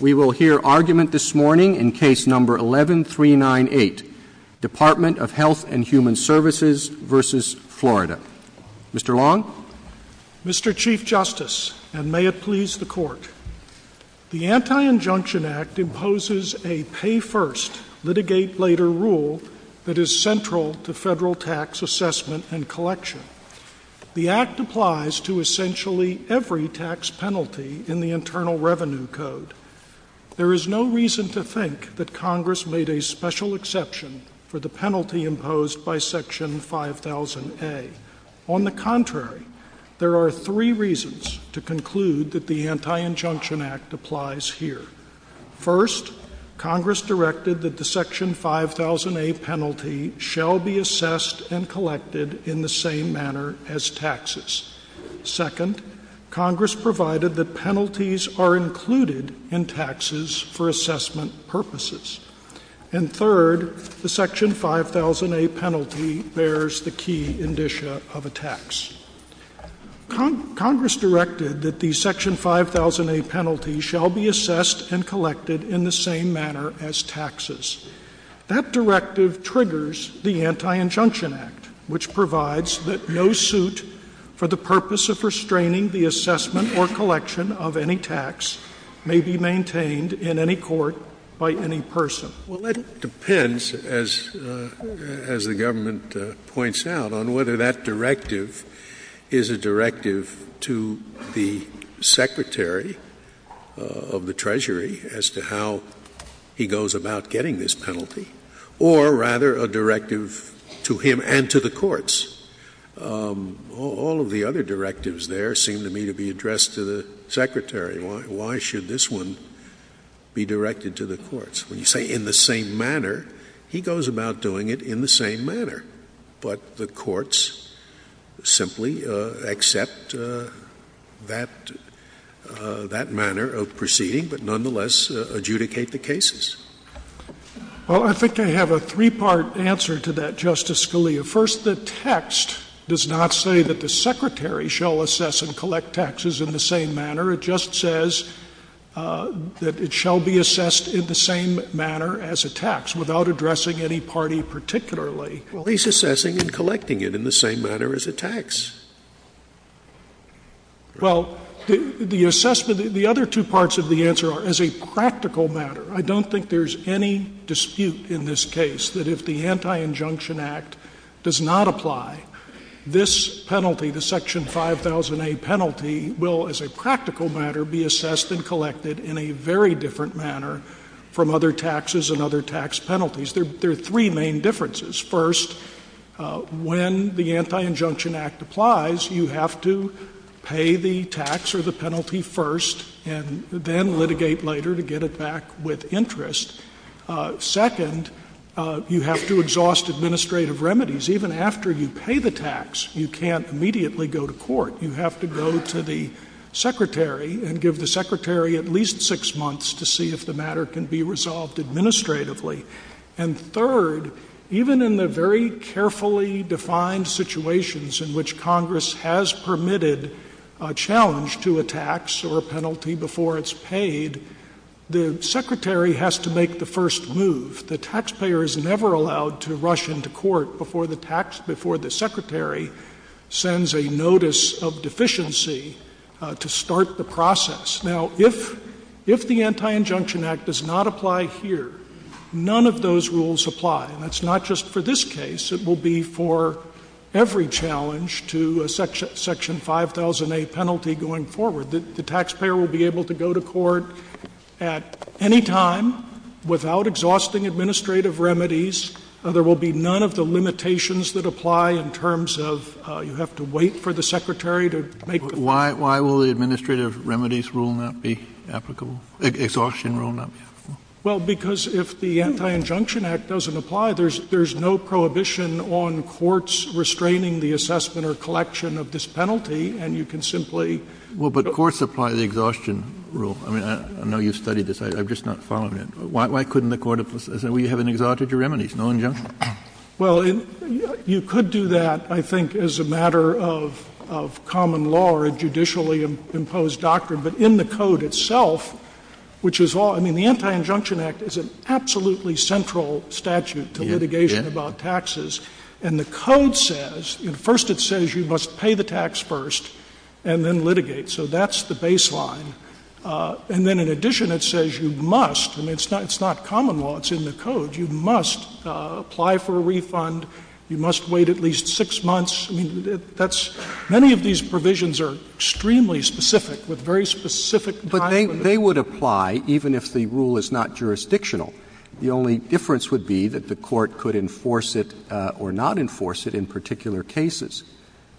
We will hear argument this morning in case number 11398, Department of Health and Human Services v. Florida. Mr. Long? Mr. Chief Justice, and may it please the Court, the Anti-Injunction Act imposes a pay-first, litigate-later rule that is central to federal tax assessment and collection. The Act applies to essentially every tax penalty in the Internal Revenue Code. There is no reason to think that Congress made a special exception for the penalty imposed by Section 5000A. On the contrary, there are three reasons to conclude that the Anti-Injunction Act applies here. First, Congress directed that the Section 5000A penalty shall be assessed and collected in the same manner as taxes. Second, Congress provided that penalties are included in taxes for assessment purposes. And third, the Section 5000A penalty bears the key indicia of a tax. Congress directed that the Section 5000A penalty shall be assessed and collected in the same manner as taxes. That directive triggers the Anti-Injunction Act, which provides that no suit for the purpose of restraining the assessment or collection of any tax may be maintained in any court by any person. Well, that depends, as the government points out, on whether that directive is a directive to the Secretary of the Treasury as to how he goes about getting this penalty, or rather a directive to him and to the courts. All of the other directives there seem to me to be addressed to the Secretary. Why should this one be directed to the courts? When you say in the same manner, he goes about doing it in the same manner. But the courts simply accept that manner of proceeding, but nonetheless adjudicate the cases. Well, I think they have a three-part answer to that, Justice Scalia. First, the text does not say that the Secretary shall assess and collect taxes in the same manner. It just says that it shall be assessed in the same manner as a tax, without addressing any party particularly. Well, he's assessing and collecting it in the same manner as a tax. Well, the assessment — the other two parts of the answer are as a practical matter. I don't think there's any dispute in this case that if the Anti-Injunction Act does not apply, this penalty, the Section 5000A penalty, will, as a practical matter, be assessed and collected in a very different manner from other taxes and other tax penalties. There are three main differences. First, when the Anti-Injunction Act applies, you have to pay the tax or the penalty first, and then litigate later to get it back with interest. Second, you have to exhaust administrative remedies. Even after you pay the tax, you can't immediately go to court. You have to go to the Secretary and give the Secretary at least six months to see if the matter can be resolved administratively. And third, even in the very carefully defined situations in which Congress has permitted a challenge to a tax or a penalty before it's paid, the Secretary has to make the first move. The taxpayer is never allowed to rush into court before the Secretary sends a notice of deficiency to start the process. Now, if the Anti-Injunction Act does not apply here, none of those rules apply. And that's not just for this case. It will be for every challenge to a Section 5000A penalty going forward. The taxpayer will be able to go to court at any time without exhausting administrative remedies, and there will be none of the limitations that apply in terms of you have to wait for the Secretary to make the move. Why will the administrative remedies rule not be applicable? Exhaustion rule not be applicable? Well, because if the Anti-Injunction Act doesn't apply, there's no prohibition on courts restraining the assessment or collection of this penalty, and you can simply — Well, but courts apply the exhaustion rule. I mean, I know you've studied this. I'm just not following it. Why couldn't the court have said, well, you haven't exhausted your remedies, no injunction? Well, you could do that, I think, as a matter of common law or a judicially imposed doctrine. But in the Code itself, which is all — I mean, the Anti-Injunction Act is an absolutely central statute to litigation about taxes. And the Code says — first it says you must pay the tax first and then litigate. So that's the baseline. And then in addition it says you must — I mean, it's not common law, it's in the Code — you must apply for a refund, you must wait at least six months. I mean, that's — many of these provisions are extremely specific, with very specific time limits. But they would apply even if the rule is not jurisdictional. The only difference would be that the court could enforce it or not enforce it in particular cases.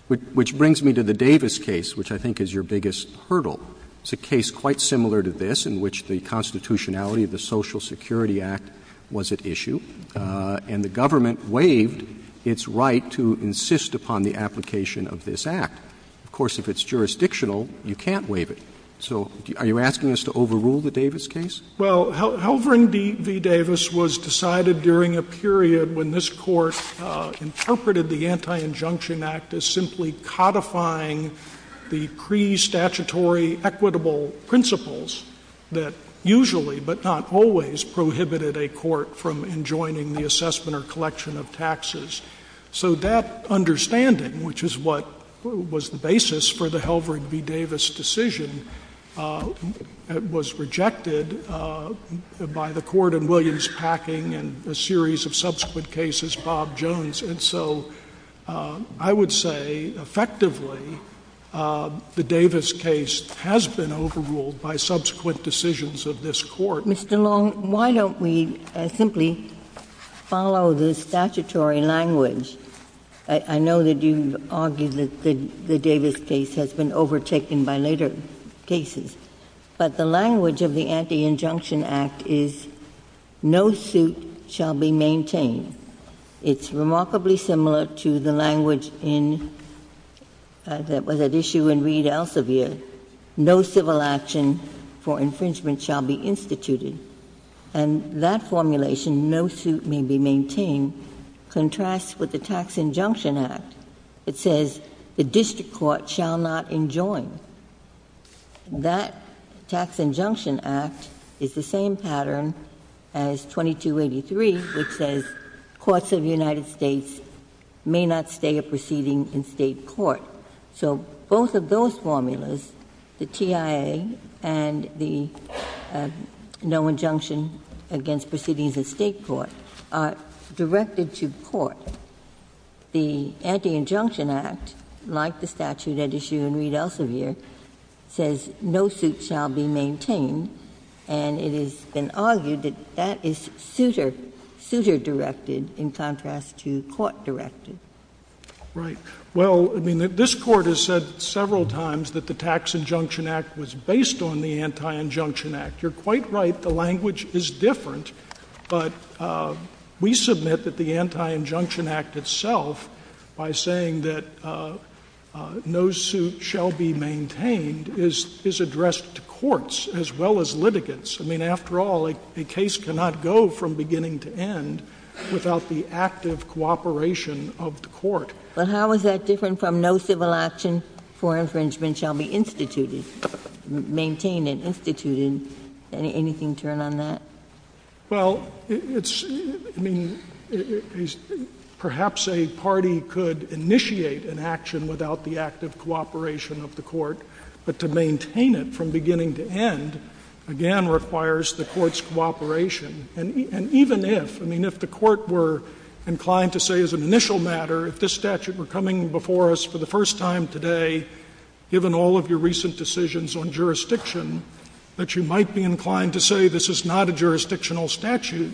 Which brings me to the Davis case, which I think is your biggest hurdle. It's a case quite similar to this, in which the constitutionality of the Social Security Act was at issue. And the government waived its right to insist upon the application of this act. Of course, if it's jurisdictional, you can't waive it. So are you asking us to overrule the Davis case? Well, Halvard v. Davis was decided during a period when this Court interpreted the Anti-Injunction Act as simply codifying the pre-statutory equitable principles that usually, but not always, prohibited a court from enjoining the assessment or collection of taxes. So that understanding, which is what was the basis for the Halvard v. Davis decision, was rejected by the Court in Williams-Packing and a series of subsequent cases, Bob Jones. And so I would say, effectively, the Davis case has been overruled by subsequent decisions of this Court. So, Mr. Long, why don't we simply follow the statutory language? I know that you argue that the Davis case has been overtaken by later cases. But the language of the Anti-Injunction Act is, no suit shall be maintained. It's remarkably similar to the language that was at issue in Reed Elsevier. No civil action for infringement shall be instituted. And that formulation, no suit may be maintained, contrasts with the Tax Injunction Act. It says the district court shall not enjoin. That Tax Injunction Act is the same pattern as 2283, which says courts of the United States may not stay a proceeding in state court. So both of those formulas, the TIA and the no injunction against proceedings in state court, are directed to court. The Anti-Injunction Act, like the statute at issue in Reed Elsevier, says no suit shall be maintained. And it has been argued that that is suitor-directed in contrast to court-directed. Right. Well, I mean, this Court has said several times that the Tax Injunction Act was based on the Anti-Injunction Act. You're quite right. The language is different. But we submit that the Anti-Injunction Act itself, by saying that no suit shall be maintained, is addressed to courts as well as litigants. I mean, after all, a case cannot go from beginning to end without the active cooperation of the court. But how is that different from no civil action for infringement shall be instituted, maintained and instituted? Anything turn on that? Well, perhaps a party could initiate an action without the active cooperation of the court. But to maintain it from beginning to end, again, requires the court's cooperation. And even if, I mean, if the court were inclined to say as an initial matter, if this statute were coming before us for the first time today, given all of your recent decisions on jurisdiction, that you might be inclined to say this is not a jurisdictional statute,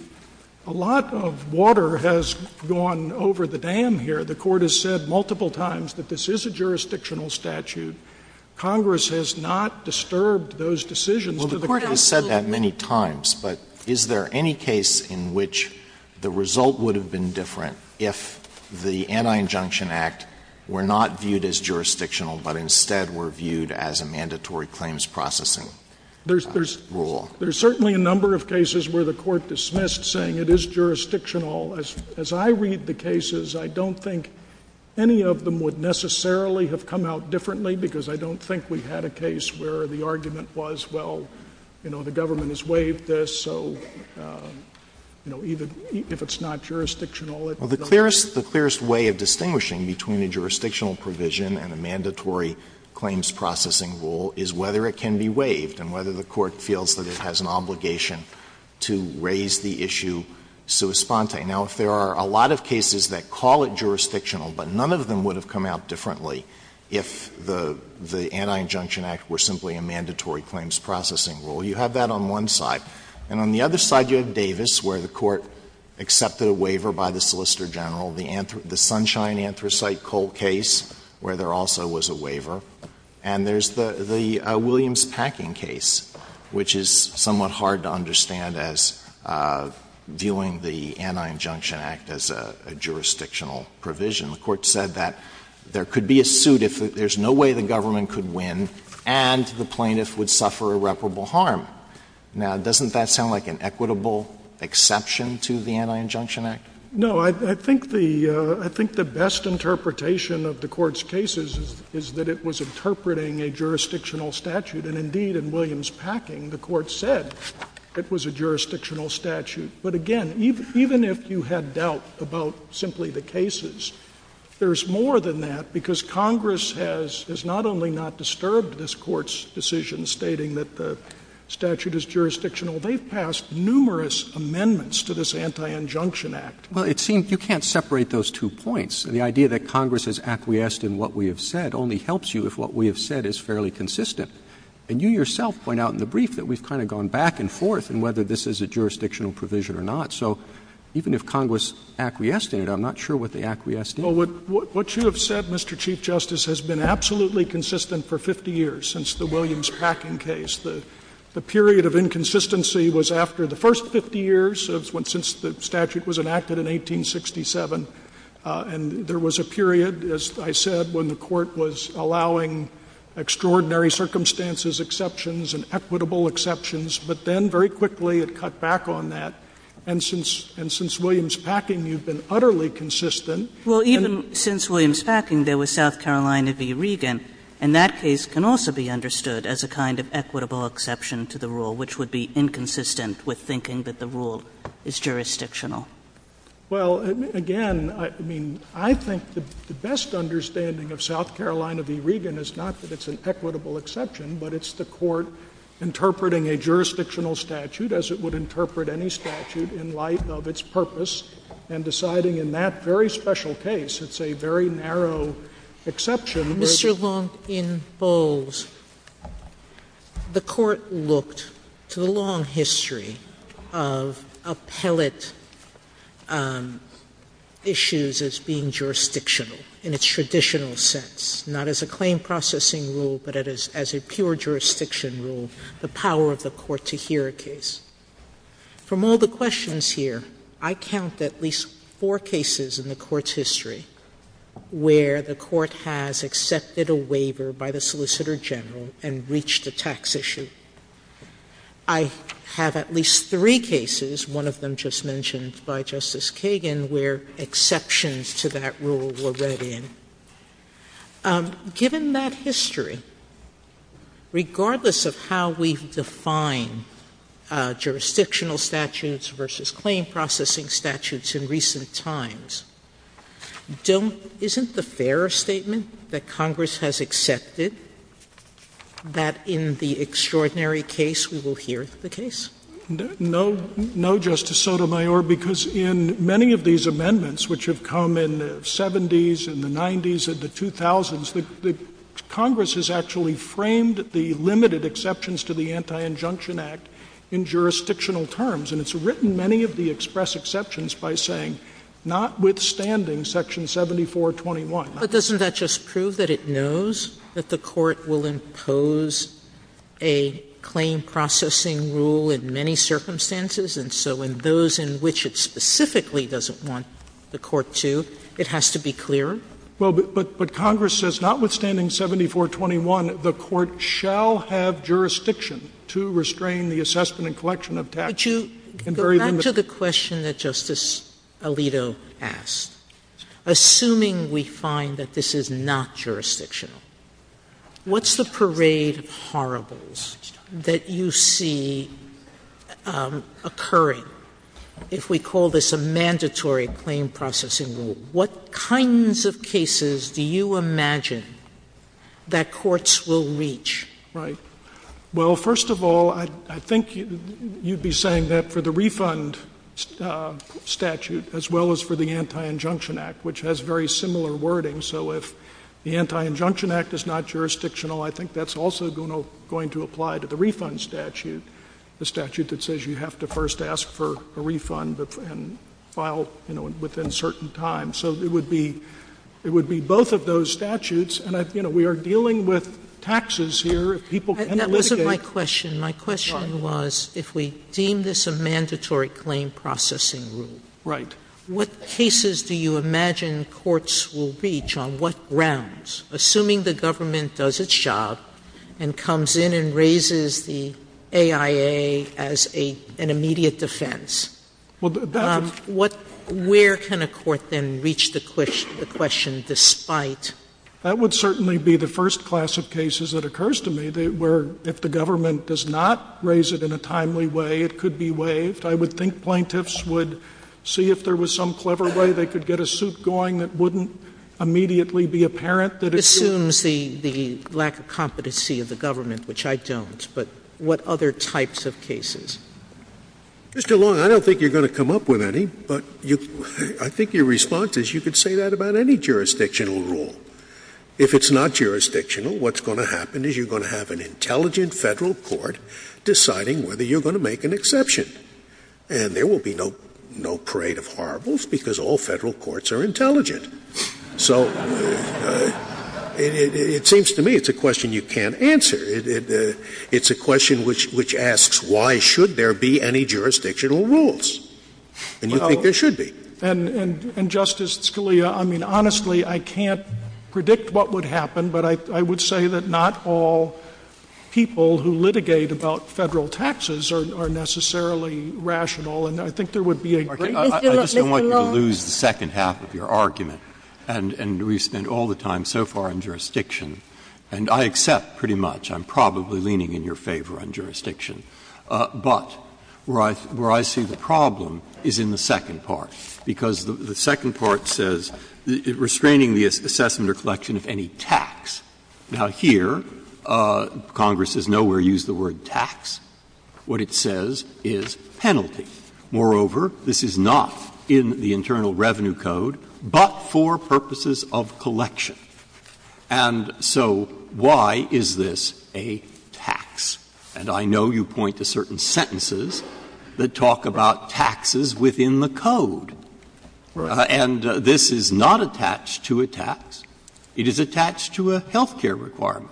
a lot of water has gone over the dam here. The court has said multiple times that this is a jurisdictional statute. Congress has not disturbed those decisions. Well, the court has said that many times. But is there any case in which the result would have been different if the Anti-Injunction Act were not viewed as jurisdictional but instead were viewed as a mandatory claims processing rule? There's certainly a number of cases where the court dismissed saying it is jurisdictional. As I read the cases, I don't think any of them would necessarily have come out differently because I don't think we've had a case where the argument was, well, you know, the government has waived this, so, you know, even if it's not jurisdictional, it doesn't matter. Well, the clearest way of distinguishing between a jurisdictional provision and a mandatory claims processing rule is whether it can be waived and whether the court feels that it has an obligation to raise the issue sui sponte. Now, there are a lot of cases that call it jurisdictional, but none of them would have come out differently if the Anti-Injunction Act were simply a mandatory claims processing rule. You have that on one side. And on the other side, you have Davis where the court accepted a waiver by the Solicitor General, the Sunshine Anthracite Coal case where there also was a waiver, and there's the Williams Packing case, which is somewhat hard to understand as viewing the Anti-Injunction Act as a jurisdictional provision. The court said that there could be a suit if there's no way the government could win and the plaintiff would suffer irreparable harm. Now, doesn't that sound like an equitable exception to the Anti-Injunction Act? No, I think the best interpretation of the court's cases is that it was interpreting a jurisdictional statute. And, indeed, in Williams Packing, the court said it was a jurisdictional statute. But, again, even if you had doubt about simply the cases, there's more than that because Congress has not only not disturbed this court's decision stating that the statute is jurisdictional, they've passed numerous amendments to this Anti-Injunction Act. Well, it seems you can't separate those two points. The idea that Congress has acquiesced in what we have said only helps you if what we have said is fairly consistent. And you yourself point out in the brief that we've kind of gone back and forth in whether this is a jurisdictional provision or not. So even if Congress acquiesced in it, I'm not sure what the acquiesce did. Well, what you have said, Mr. Chief Justice, has been absolutely consistent for 50 years since the Williams Packing case. The period of inconsistency was after the first 50 years since the statute was enacted in 1867. And there was a period, as I said, when the court was allowing extraordinary circumstances, exceptions, and equitable exceptions, but then very quickly it cut back on that. And since Williams Packing, you've been utterly consistent. Well, even since Williams Packing, there was South Carolina v. Regan. And that case can also be understood as a kind of equitable exception to the rule, which would be inconsistent with thinking that the rule is jurisdictional. Well, again, I mean, I think the best understanding of South Carolina v. Regan is not that it's an equitable exception, but it's the court interpreting a jurisdictional statute as it would interpret any statute in light of its purpose and deciding in that very special case. It's a very narrow exception. Mr. Long, in both, the court looked to the long history of appellate issues as being jurisdictional in its traditional sense, not as a claim processing rule, but as a pure jurisdiction rule, the power of the court to hear a case. From all the questions here, I count at least four cases in the court's history where the court has accepted a waiver by the solicitor general and reached a tax issue. I have at least three cases, one of them just mentioned by Justice Kagan, where exceptions to that rule were read in. Given that history, regardless of how we define jurisdictional statutes versus claim processing statutes in recent times, isn't the fair statement that Congress has accepted that in the extraordinary case, we will hear the case? No, Justice Sotomayor, because in many of these amendments, which have come in the 70s and the 90s and the 2000s, Congress has actually framed the limited exceptions to the Anti-Injunction Act in jurisdictional terms, and it's written many of the express exceptions by saying, notwithstanding section 7421. But doesn't that just prove that it knows that the court will impose a claim processing rule in many circumstances, and so in those in which it specifically doesn't want the court to, it has to be clear? Well, but Congress says, notwithstanding 7421, the court shall have jurisdiction to restrain the assessment and collection of taxes. But you go back to the question that Justice Alito asked. Assuming we find that this is not jurisdictional, what's the parade of horribles that you see occurring if we call this a mandatory claim processing rule? What kinds of cases do you imagine that courts will reach? Right. Well, first of all, I think you'd be saying that for the refund statute, as well as for the Anti-Injunction Act, which has very similar wording, so if the Anti-Injunction Act is not jurisdictional, I think that's also going to apply to the refund statute, the statute that says you have to first ask for a refund and file within a certain time. So it would be both of those statutes, and we are dealing with taxes here. That wasn't my question. My question was if we deem this a mandatory claim processing rule, what cases do you imagine courts will reach on what grounds, assuming the government does its job and comes in and raises the AIA as an immediate defense? Where can a court then reach the question despite? That would certainly be the first class of cases that occurs to me, where if the government does not raise it in a timely way, it could be waived. I would think plaintiffs would see if there was some clever way they could get a suit going that wouldn't immediately be apparent that assumes the lack of competency of the government, which I don't, but what other types of cases? Mr. Long, I don't think you're going to come up with any, but I think your response is you could say that about any jurisdictional rule. If it's not jurisdictional, what's going to happen is you're going to have an intelligent federal court deciding whether you're going to make an exception, and there will be no parade of horribles because all federal courts are intelligent. So it seems to me it's a question you can't answer. It's a question which asks, why should there be any jurisdictional rules? And you think there should be. And Justice Scalia, I mean, honestly, I can't predict what would happen, but I would say that not all people who litigate about federal taxes are necessarily rational, and I think there would be a great deal of— I just don't want you to lose the second half of your argument, and we spend all the time so far on jurisdiction, and I accept pretty much. I'm probably leaning in your favor on jurisdiction. But where I see the problem is in the second part, because the second part says restraining the assessment or collection of any tax. Now, here, Congress has nowhere used the word tax. What it says is penalty. Moreover, this is not in the Internal Revenue Code, but for purposes of collection. And so why is this a tax? And I know you point to certain sentences that talk about taxes within the code. And this is not attached to a tax. It is attached to a health care requirement.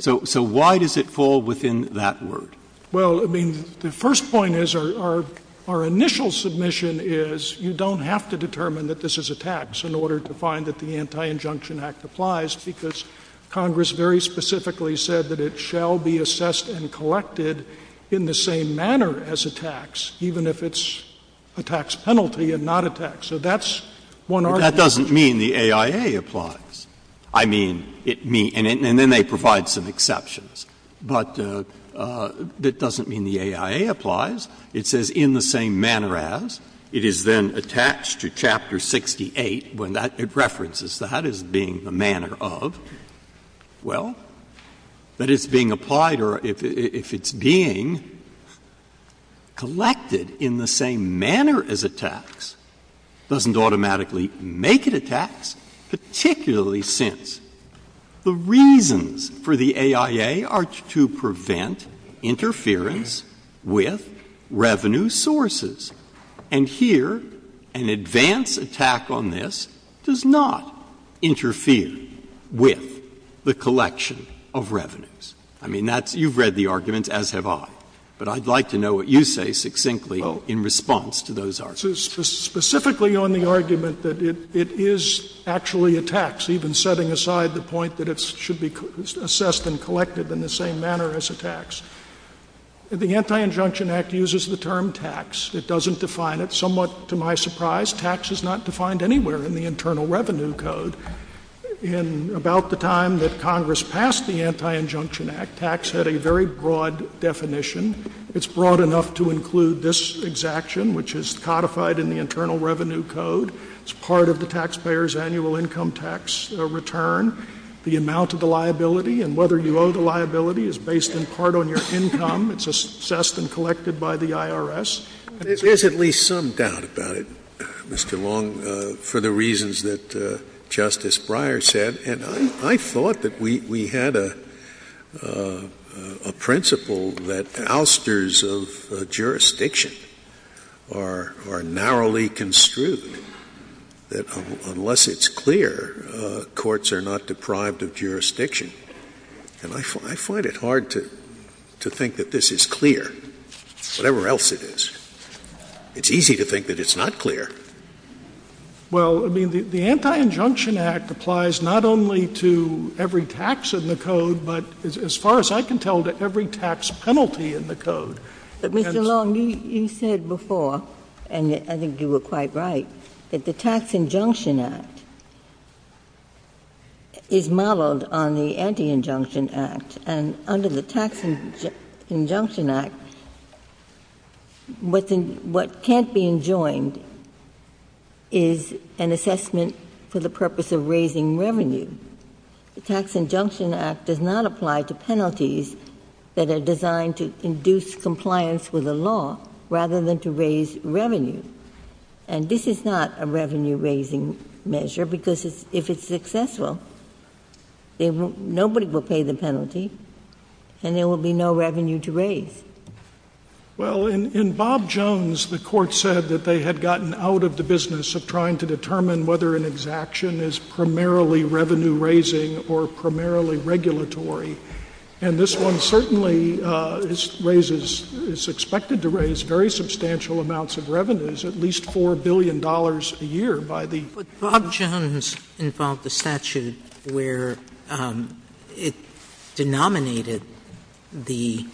So why does it fall within that word? Well, I mean, the first point is our initial submission is you don't have to determine that this is a tax in order to find that the Anti-Injunction Act applies, because Congress very specifically said that it shall be assessed and collected in the same manner as a tax, even if it's a tax penalty and not a tax. So that's one argument. That doesn't mean the AIA applies. I mean, and then they provide some exceptions. But that doesn't mean the AIA applies. It says in the same manner as. It is then attached to Chapter 68 when it references that as being the manner of. Well, that it's being applied or if it's being collected in the same manner as a tax doesn't automatically make it a tax, particularly since the reasons for the AIA are to prevent interference with revenue sources. And here an advance attack on this does not interfere with the collection of revenues. I mean, that's — you've read the argument, as have I. But I'd like to know what you say succinctly in response to those arguments. Specifically on the argument that it is actually a tax, even setting aside the point that it should be assessed and collected in the same manner as a tax, the Anti-Injunction Act uses the term tax. It doesn't define it. Somewhat to my surprise, tax is not defined anywhere in the Internal Revenue Code. In about the time that Congress passed the Anti-Injunction Act, tax had a very broad definition. It's broad enough to include this exaction, which is codified in the Internal Revenue Code. It's part of the taxpayer's annual income tax return. The amount of the liability and whether you owe the liability is based in part on your income. It's assessed and collected by the IRS. There's at least some doubt about it, Mr. Long, for the reasons that Justice Breyer said. And I thought that we had a principle that ousters of jurisdiction are narrowly construed, that unless it's clear, courts are not deprived of jurisdiction. And I find it hard to think that this is clear, whatever else it is. It's easy to think that it's not clear. Well, I mean, the Anti-Injunction Act applies not only to every tax in the Code, but as far as I can tell, to every tax penalty in the Code. But, Mr. Long, you said before, and I think you were quite right, that the Tax Injunction Act is modeled on the Anti-Injunction Act. And under the Tax Injunction Act, what can't be enjoined is an assessment for the purpose of raising revenue. The Tax Injunction Act does not apply to penalties that are designed to induce compliance with the law, rather than to raise revenue. And this is not a revenue-raising measure, because if it's successful, nobody will pay the penalty, and there will be no revenue to raise. Well, in Bob Jones, the Court said that they had gotten out of the business of trying to determine whether an exaction is primarily revenue-raising or primarily regulatory. And this one certainly raises — is expected to raise very substantial amounts of revenues, at least $4 billion a year by the — But Bob Jones involved a statute where it denominated the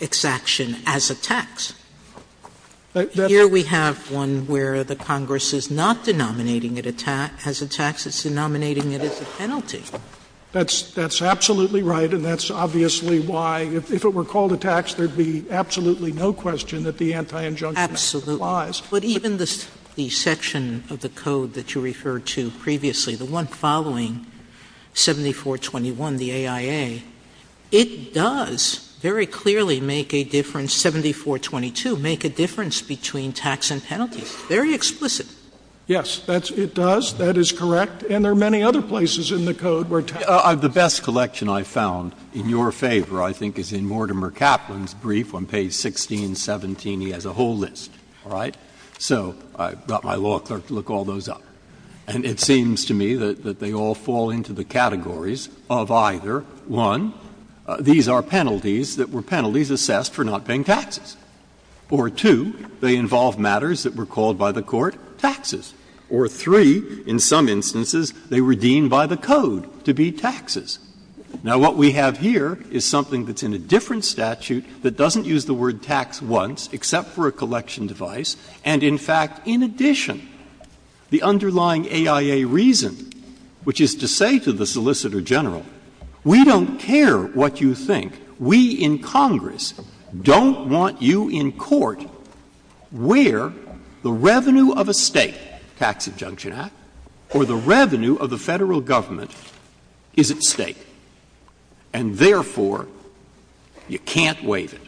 exaction as a tax. Here we have one where the Congress is not denominating it as a tax. That's absolutely right, and that's obviously why, if it were called a tax, there'd be absolutely no question that the Anti-Injunction Act applies. Absolutely. But even the section of the code that you referred to previously, the one following 7421, the AIA, it does very clearly make a difference — 7422 — make a difference between tax and penalties. Very explicit. Yes, it does. That is correct. And there are many other places in the code where — The best collection I found in your favor, I think, is in Mortimer Kaplan's brief on page 1617. He has a whole list, all right? So I've got my law clerk to look all those up. And it seems to me that they all fall into the categories of either, one, these are penalties that were penalties assessed for not paying taxes, or two, they involve matters that were called by the court taxes, or three, in some instances, they were deemed by the code to be taxes. Now, what we have here is something that's in a different statute that doesn't use the word tax once, except for a collection device, and in fact, in addition, the underlying AIA reason, which is to say to the Solicitor General, we don't care what you think. We in Congress don't want you in court where the revenue of a state tax adjunction act or the revenue of the federal government is at stake, and therefore, you can't waive it.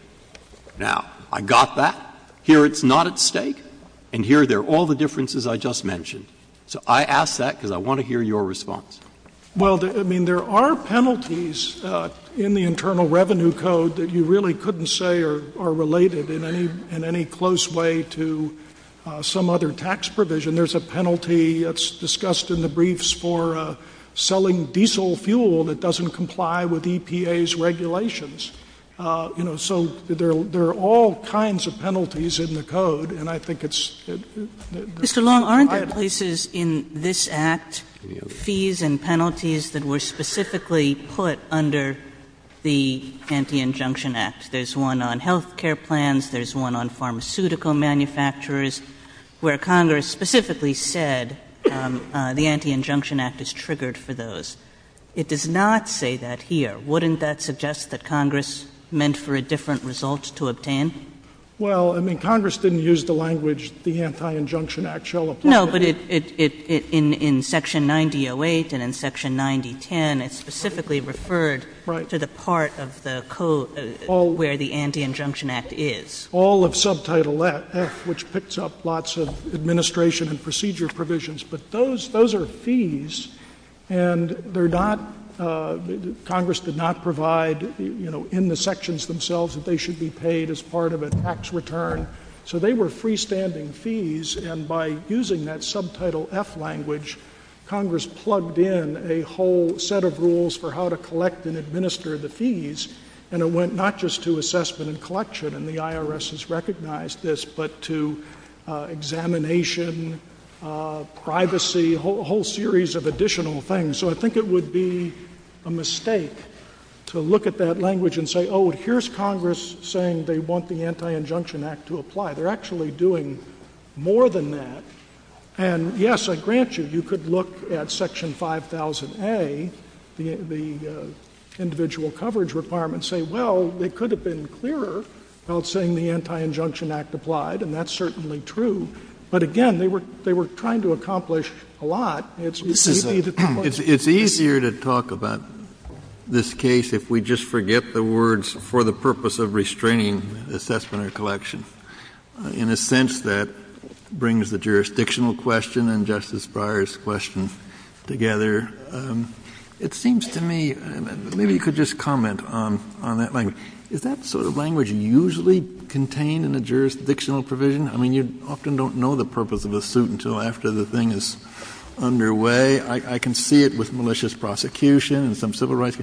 Now, I got that. Here it's not at stake, and here are all the differences I just mentioned. So I ask that because I want to hear your response. Well, I mean, there are penalties in the Internal Revenue Code that you really couldn't say are related in any close way to some other tax provision. There's a penalty that's discussed in the briefs for selling diesel fuel that doesn't comply with EPA's regulations. You know, so there are all kinds of penalties in the code, and I think it's — Mr. Long, aren't there places in this act, fees and penalties that were specifically put under the Anti-Injunction Act? There's one on health care plans. There's one on pharmaceutical manufacturers where Congress specifically said the Anti-Injunction Act is triggered for those. It does not say that here. Wouldn't that suggest that Congress meant for a different result to obtain? Well, I mean, Congress didn't use the language, the Anti-Injunction Act shall apply. No, but in Section 9008 and in Section 9010, it's specifically referred to the part of the code where the Anti-Injunction Act is. All of Subtitle X, which picks up lots of administration and procedure provisions. But those are fees, and they're not — Congress did not provide, you know, in the sections themselves that they should be paid as part of a tax return. So they were freestanding fees, and by using that Subtitle F language, Congress plugged in a whole set of rules for how to collect and administer the fees, and it went not just to assessment and collection, and the IRS has recognized this, but to examination, privacy, a whole series of additional things. So I think it would be a mistake to look at that language and say, oh, here's Congress saying they want the Anti-Injunction Act to apply. They're actually doing more than that. And, yes, I grant you, you could look at Section 5000A, the individual coverage requirement, and say, well, it could have been clearer without saying the Anti-Injunction Act applied, and that's certainly true. But, again, they were trying to accomplish a lot. It's easier to talk about this case if we just forget the words for the purpose of restraining assessment and collection, in a sense that brings the jurisdictional question and Justice Breyer's question together. It seems to me — maybe you could just comment on that language. Is that sort of language usually contained in the jurisdictional provision? I mean, you often don't know the purpose of a suit until after the thing is underway. I can see it with malicious prosecution and some civil rights.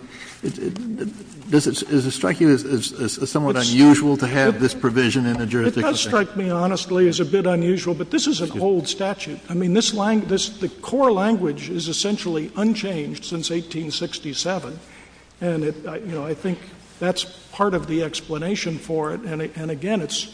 Does it strike you as somewhat unusual to have this provision in the jurisdiction? It does strike me, honestly, as a bit unusual, but this is a cold statute. I mean, the core language is essentially unchanged since 1867, and I think that's part of the explanation for it. And, again, it's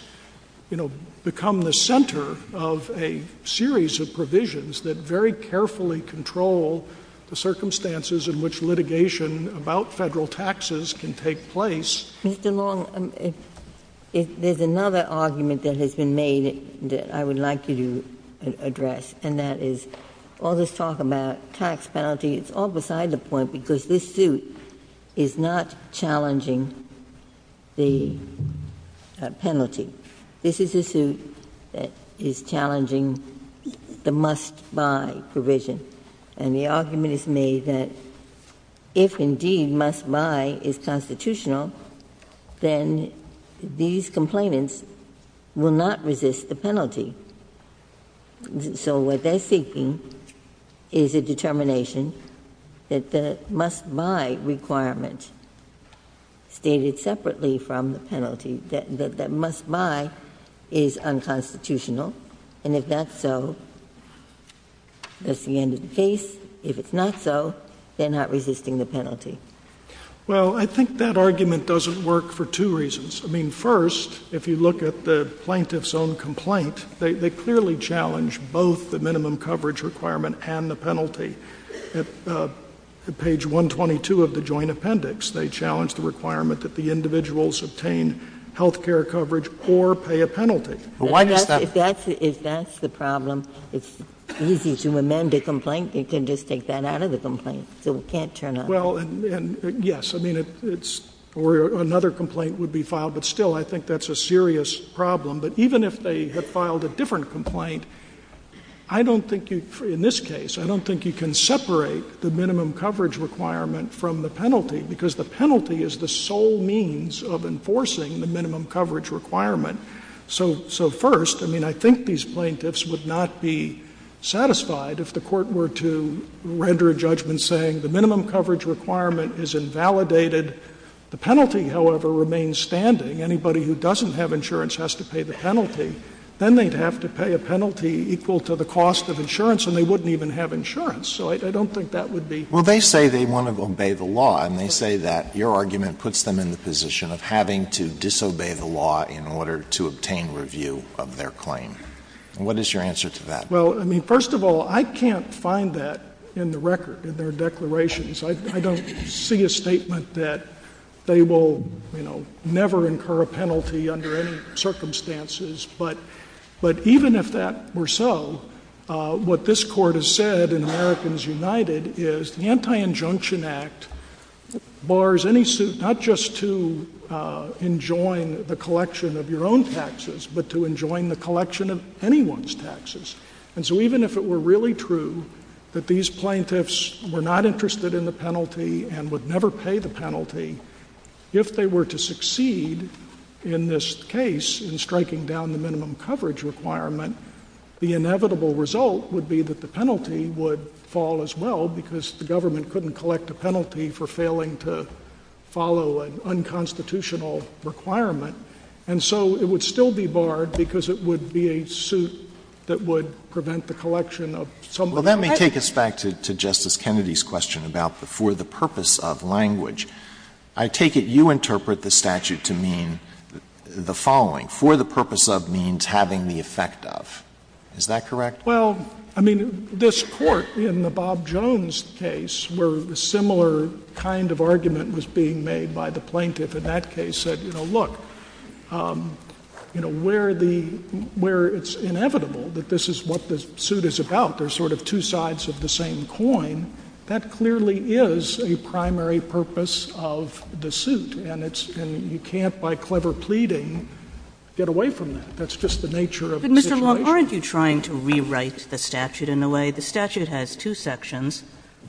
become the center of a series of provisions that very carefully control the circumstances in which litigation about Federal taxes can take place. Mr. Long, there's another argument that has been made that I would like you to address, and that is all this talk about tax penalty, it's all beside the point because this suit is not challenging the penalty. This is a suit that is challenging the must-buy provision. And the argument is made that if, indeed, must-buy is constitutional, then these complainants will not resist the penalty. So what they're seeking is a determination that the must-buy requirement, stated separately from the penalty, that must-buy is unconstitutional. And if that's so, that's the end of the case. If it's not so, they're not resisting the penalty. Well, I think that argument doesn't work for two reasons. I mean, first, if you look at the plaintiff's own complaint, they clearly challenge both the minimum coverage requirement and the penalty. At page 122 of the Joint Appendix, they challenge the requirement that the individuals obtain health care coverage or pay a penalty. Well, why does that — If that's the problem, it's easy to amend a complaint. You can just take that out of the complaint. So it can't turn up. Well, and yes, I mean, it's — or another complaint would be filed, but still, I think that's a serious problem. But even if they had filed a different complaint, I don't think you — in this case, I don't think you can separate the minimum coverage requirement from the penalty, because the penalty is the sole means of enforcing the minimum coverage requirement. So first, I mean, I think these plaintiffs would not be satisfied if the Court were to render a judgment saying the minimum coverage requirement is invalidated. The penalty, however, remains standing. Anybody who doesn't have insurance has to pay the penalty. Then they'd have to pay a penalty equal to the cost of insurance, and they wouldn't even have insurance. So I don't think that would be — Well, they say they want to obey the law, and they say that your argument puts them in the position of having to disobey the law in order to obtain review of their claim. What is your answer to that? Well, I mean, first of all, I can't find that in the record, in their declarations. I don't see a statement that they will, you know, never incur a penalty under any circumstances. But even if that were so, what this Court has said in Americans United is the Anti-Injunction Act bars any — not just to enjoin the collection of your own taxes, but to enjoin the collection of anyone's taxes. And so even if it were really true that these plaintiffs were not interested in the penalty and would never pay the penalty, if they were to succeed in this case in striking down the minimum coverage requirement, the inevitable result would be that the penalty would fall as well because the government couldn't collect a penalty for failing to follow an unconstitutional requirement. And so it would still be barred because it would be a suit that would prevent the collection of someone's taxes. Well, that may take us back to Justice Kennedy's question about the for the purpose of language. I take it you interpret the statute to mean the following. For the purpose of means having the effect of. Is that correct? Well, I mean, this Court in the Bob Jones case where a similar kind of argument was being made by the plaintiff in that case said, you know, look, you know, where the — where it's inevitable that this is what the suit is about, there's sort of two sides of the same coin, that clearly is a primary purpose of the suit. And it's — and you can't, by clever pleading, get away from that. That's just the nature of the situation. But, Mr. Long, aren't you trying to rewrite the statute in a way — the statute has two sections.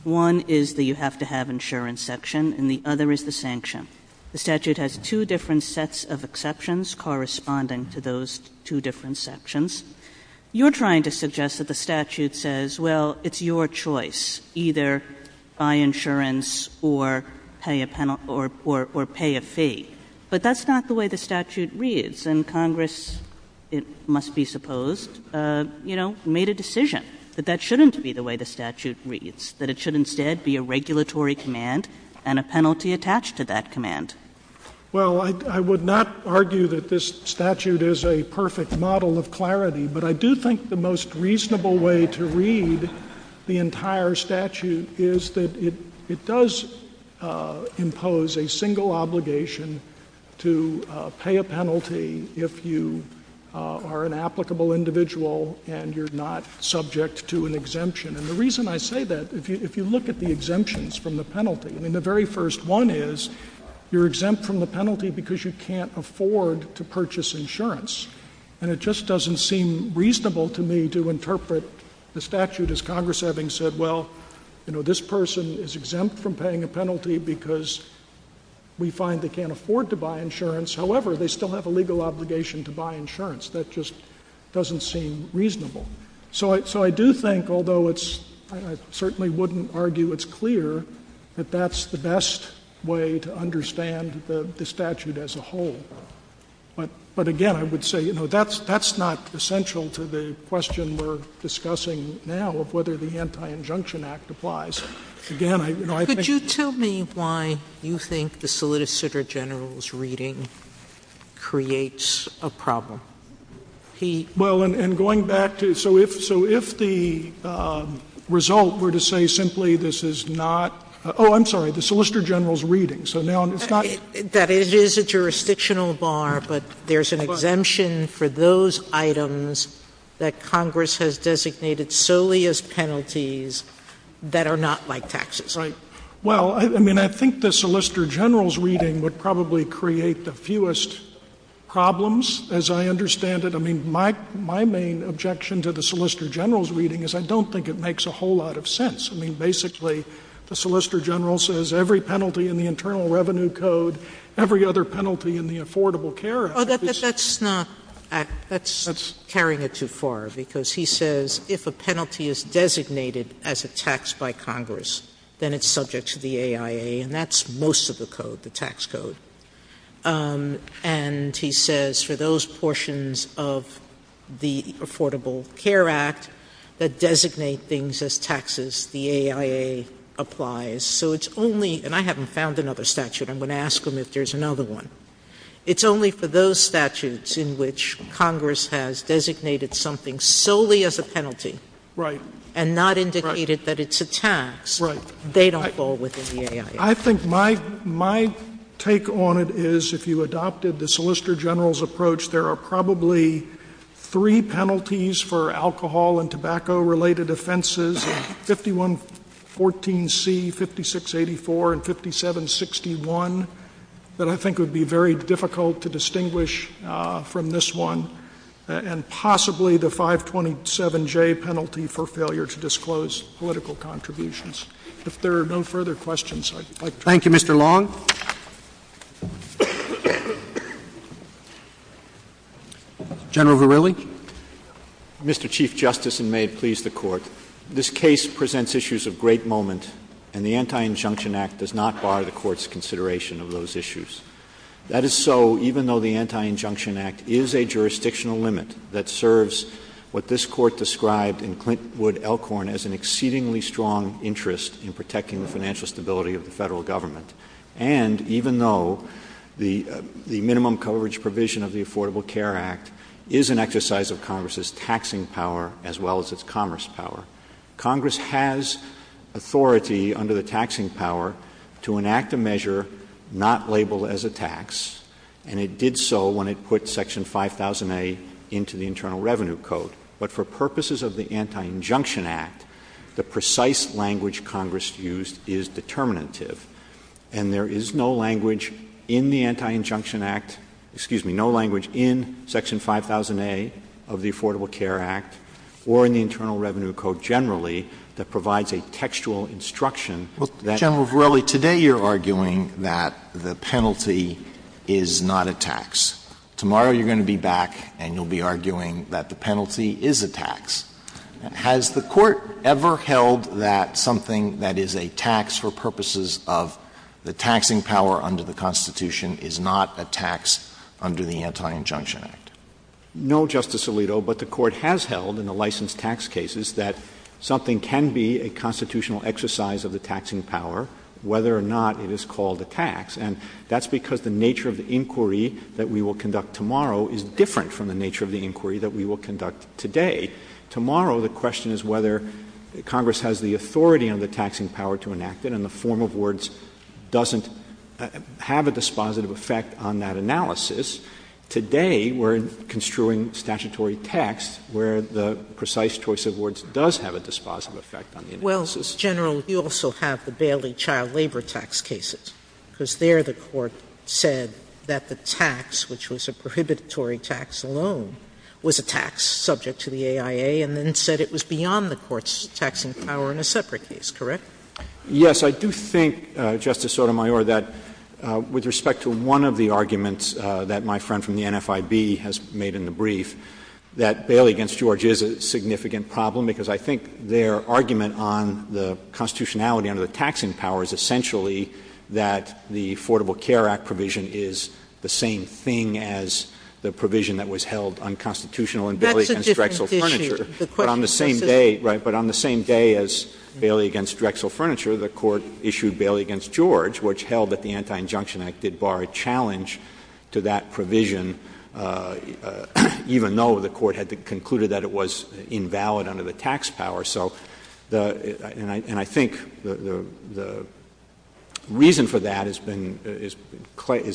One is the you have to have insurance section, and the other is the sanction. The statute has two different sets of exceptions corresponding to those two different sections. You're trying to suggest that the statute says, well, it's your choice, either buy insurance or pay a — or pay a fee. But that's not the way the statute reads. And Congress, it must be supposed, you know, made a decision that that shouldn't be the way the statute reads, that it should instead be a regulatory command and a penalty attached to that command. Well, I would not argue that this statute is a perfect model of clarity. But I do think the most reasonable way to read the entire statute is that it does impose a single obligation to pay a penalty if you are an applicable individual and you're not subject to an exemption. And the reason I say that, if you look at the exemptions from the penalty, I mean, the very first one is you're exempt from the penalty because you can't afford to purchase insurance. And it just doesn't seem reasonable to me to interpret the statute as Congress having said, well, you know, this person is exempt from paying a penalty because we find they can't afford to buy insurance. However, they still have a legal obligation to buy insurance. That just doesn't seem reasonable. So I do think, although I certainly wouldn't argue it's clear, that that's the best way to understand the statute as a whole. But again, I would say, you know, that's not essential to the question we're discussing now of whether the Anti-Injunction Act applies. Again, you know, I think — Could you tell me why you think the Solicitor General's reading creates a problem? Well, and going back to — so if the result were to say simply this is not — oh, I'm sorry, the Solicitor General's reading. So now it's not — That it is a jurisdictional bar, but there's an exemption for those items that Congress has designated solely as penalties that are not like taxes. Right. Well, I mean, I think the Solicitor General's reading would probably create the fewest problems, as I understand it. I mean, my main objection to the Solicitor General's reading is I don't think it makes a whole lot of sense. I mean, basically, the Solicitor General says every penalty in the Internal Revenue Code, every other penalty in the Affordable Care Act — Oh, that's carrying it too far, because he says if a penalty is designated as a tax by Congress, then it's subject to the AIA, and that's most of the code, the tax code. And he says for those portions of the Affordable Care Act that designate things as taxes, the AIA applies. So it's only — and I haven't found another statute. I'm going to ask him if there's another one. It's only for those statutes in which Congress has designated something solely as a penalty. Right. And not indicated that it's a tax. Right. They don't fall within the AIA. I think my take on it is if you adopted the Solicitor General's approach, there are probably three penalties for alcohol and tobacco-related offenses, 5114C, 5684, and 5761, that I think would be very difficult to distinguish from this one, and possibly the 527J penalty for failure to disclose political contributions. If there are no further questions, I'd like to — Thank you, Mr. Long. General Verrilli. Mr. Chief Justice, and may it please the Court, this case presents issues of great moment, and the Anti-Injunction Act does not bar the Court's consideration of those issues. That is so even though the Anti-Injunction Act is a jurisdictional limit that serves what this Court described in Clintwood-Elkhorn as an exceedingly strong interest in protecting the financial stability of the Federal Government, and even though the minimum coverage provision of the Affordable Care Act is an exercise of Congress's taxing power as well as its commerce power. Congress has authority under the taxing power to enact a measure not labeled as a tax, and it did so when it put Section 5000A into the Internal Revenue Code. But for purposes of the Anti-Injunction Act, the precise language Congress used is determinative, and there is no language in the Anti-Injunction Act — excuse me, no language in Section 5000A of the Affordable Care Act or in the Internal Revenue Code generally that provides a textual instruction that — General Verrilli, today you're arguing that the penalty is not a tax. Tomorrow you're going to be back and you'll be arguing that the penalty is a tax. Has the Court ever held that something that is a tax for purposes of the taxing power under the Constitution is not a tax under the Anti-Injunction Act? No, Justice Alito, but the Court has held in the licensed tax cases that something can be a constitutional exercise of the taxing power whether or not it is called a tax, and that's because the nature of the inquiry that we will conduct tomorrow is different from the nature of the inquiry that we will conduct today. Tomorrow the question is whether Congress has the authority under the taxing power to enact it, and the form of words doesn't have a dispositive effect on that analysis. Today we're construing statutory text where the precise choice of words does have a dispositive effect on the analysis. General, you also have the Bailey child labor tax cases, because there the Court said that the tax, which was a prohibitory tax alone, was a tax subject to the AIA, and then it said it was beyond the Court's taxing power in a separate case, correct? Yes, I do think, Justice Sotomayor, that with respect to one of the arguments that my friend from the NFIB has made in the brief, that Bailey v. George is a significant problem, because I think their argument on the constitutionality under the taxing power is essentially that the Affordable Care Act provision is the same thing as the provision that was held unconstitutional in Bailey v. Drexel Furniture. That's a different issue. But on the same day, right, but on the same day as Bailey v. Drexel Furniture, the Court issued Bailey v. George, which held that the Anti-Injunction Act did bar a challenge to that provision, even though the Court had concluded that it was invalid under the tax power. And I think the reason for that is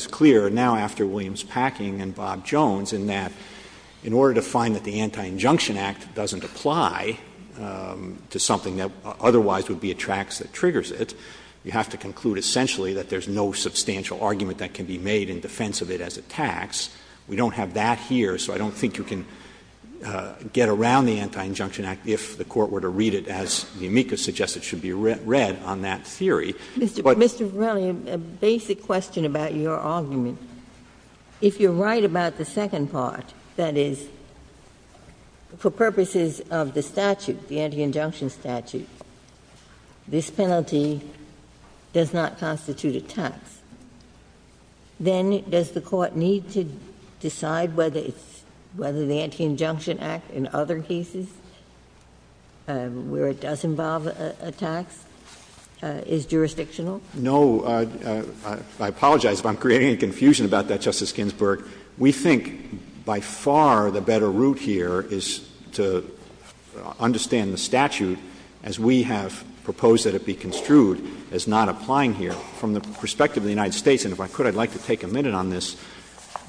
clear now after Williams-Packing and Bob Jones, in that in order to find that the Anti-Injunction Act doesn't apply to something that otherwise would be a tax that triggers it, you have to conclude essentially that there's no substantial argument that can be made in defense of it as a tax. We don't have that here, so I don't think you can get around the Anti-Injunction Act if the Court were to read it as the amicus suggests it should be read on that theory. Mr. Williams, a basic question about your argument. If you're right about the second part, that is, for purposes of the statute, the Anti-Injunction statute, this penalty does not constitute a tax. Then does the Court need to decide whether the Anti-Injunction Act in other cases where it does involve a tax is jurisdictional? No. I apologize if I'm creating a confusion about that, Justice Ginsburg. We think by far the better route here is to understand the statute as we have proposed that it be construed as not applying here. From the perspective of the United States, and if I could, I'd like to take a minute on this,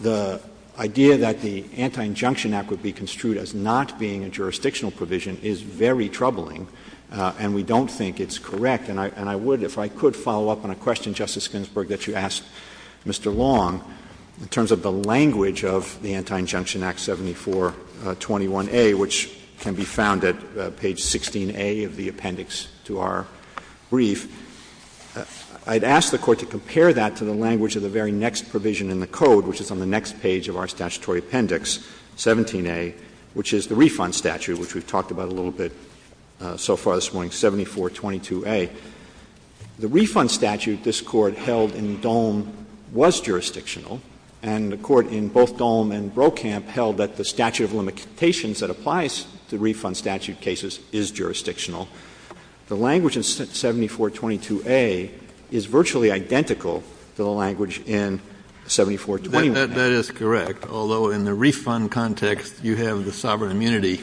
the idea that the Anti-Injunction Act would be construed as not being a jurisdictional provision is very troubling, and we don't think it's correct. And I would, if I could, follow up on a question, Justice Ginsburg, that you asked Mr. Long in terms of the language of the Anti-Injunction Act 7421A, which can be found at page 16A of the appendix to our brief. I'd ask the Court to compare that to the language of the very next provision in the Code, which is on the next page of our statutory appendix, 17A, which is the refund statute, which we've talked about a little bit so far this morning, 7422A. The refund statute this Court held in Dolm was jurisdictional, and the Court in both Dolm and Brokamp held that the statute of limitations that applies to refund statute cases is jurisdictional. The language in 7422A is virtually identical to the language in 7421A. That is correct, although in the refund context you have the sovereign immunity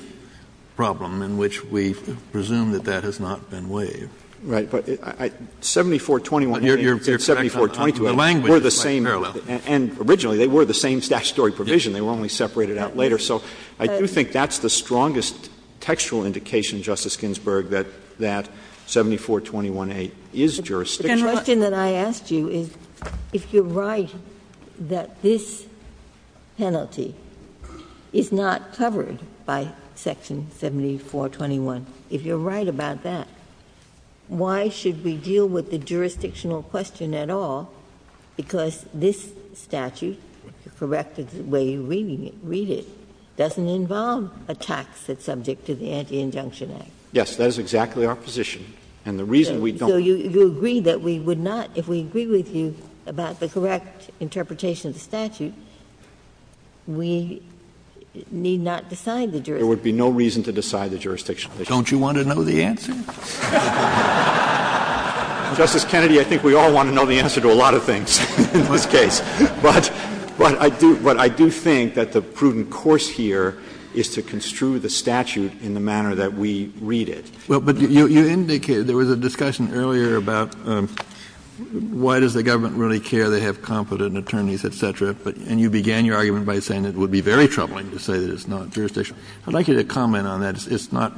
problem in which we presume that that has not been waived. Right. But 7421A and 7422A were the same, and originally they were the same statutory provision. They were only separated out later. So I do think that's the strongest textual indication, Justice Ginsburg, that 7421A is jurisdictional. The question that I asked you is, if you're right that this penalty is not covered by Section 7421, if you're right about that, why should we deal with the jurisdictional question at all? Because this statute, the corrective way you read it, doesn't involve a tax that's subject to the Anti-Injunction Act. Yes. That is exactly our position. And the reason we don't ---- So you agree that we would not, if we agree with you about the correct interpretation of the statute, we need not decide the jurisdictional question. There would be no reason to decide the jurisdictional question. Don't you want to know the answer? Justice Kennedy, I think we all want to know the answer to a lot of things in this case. But I do think that the prudent course here is to construe the statute in the manner that we read it. Well, but you indicated there was a discussion earlier about why does the government really care they have competent attorneys, et cetera, and you began your argument by saying it would be very troubling to say that it's not jurisdictional. I'd like you to comment on that. It's not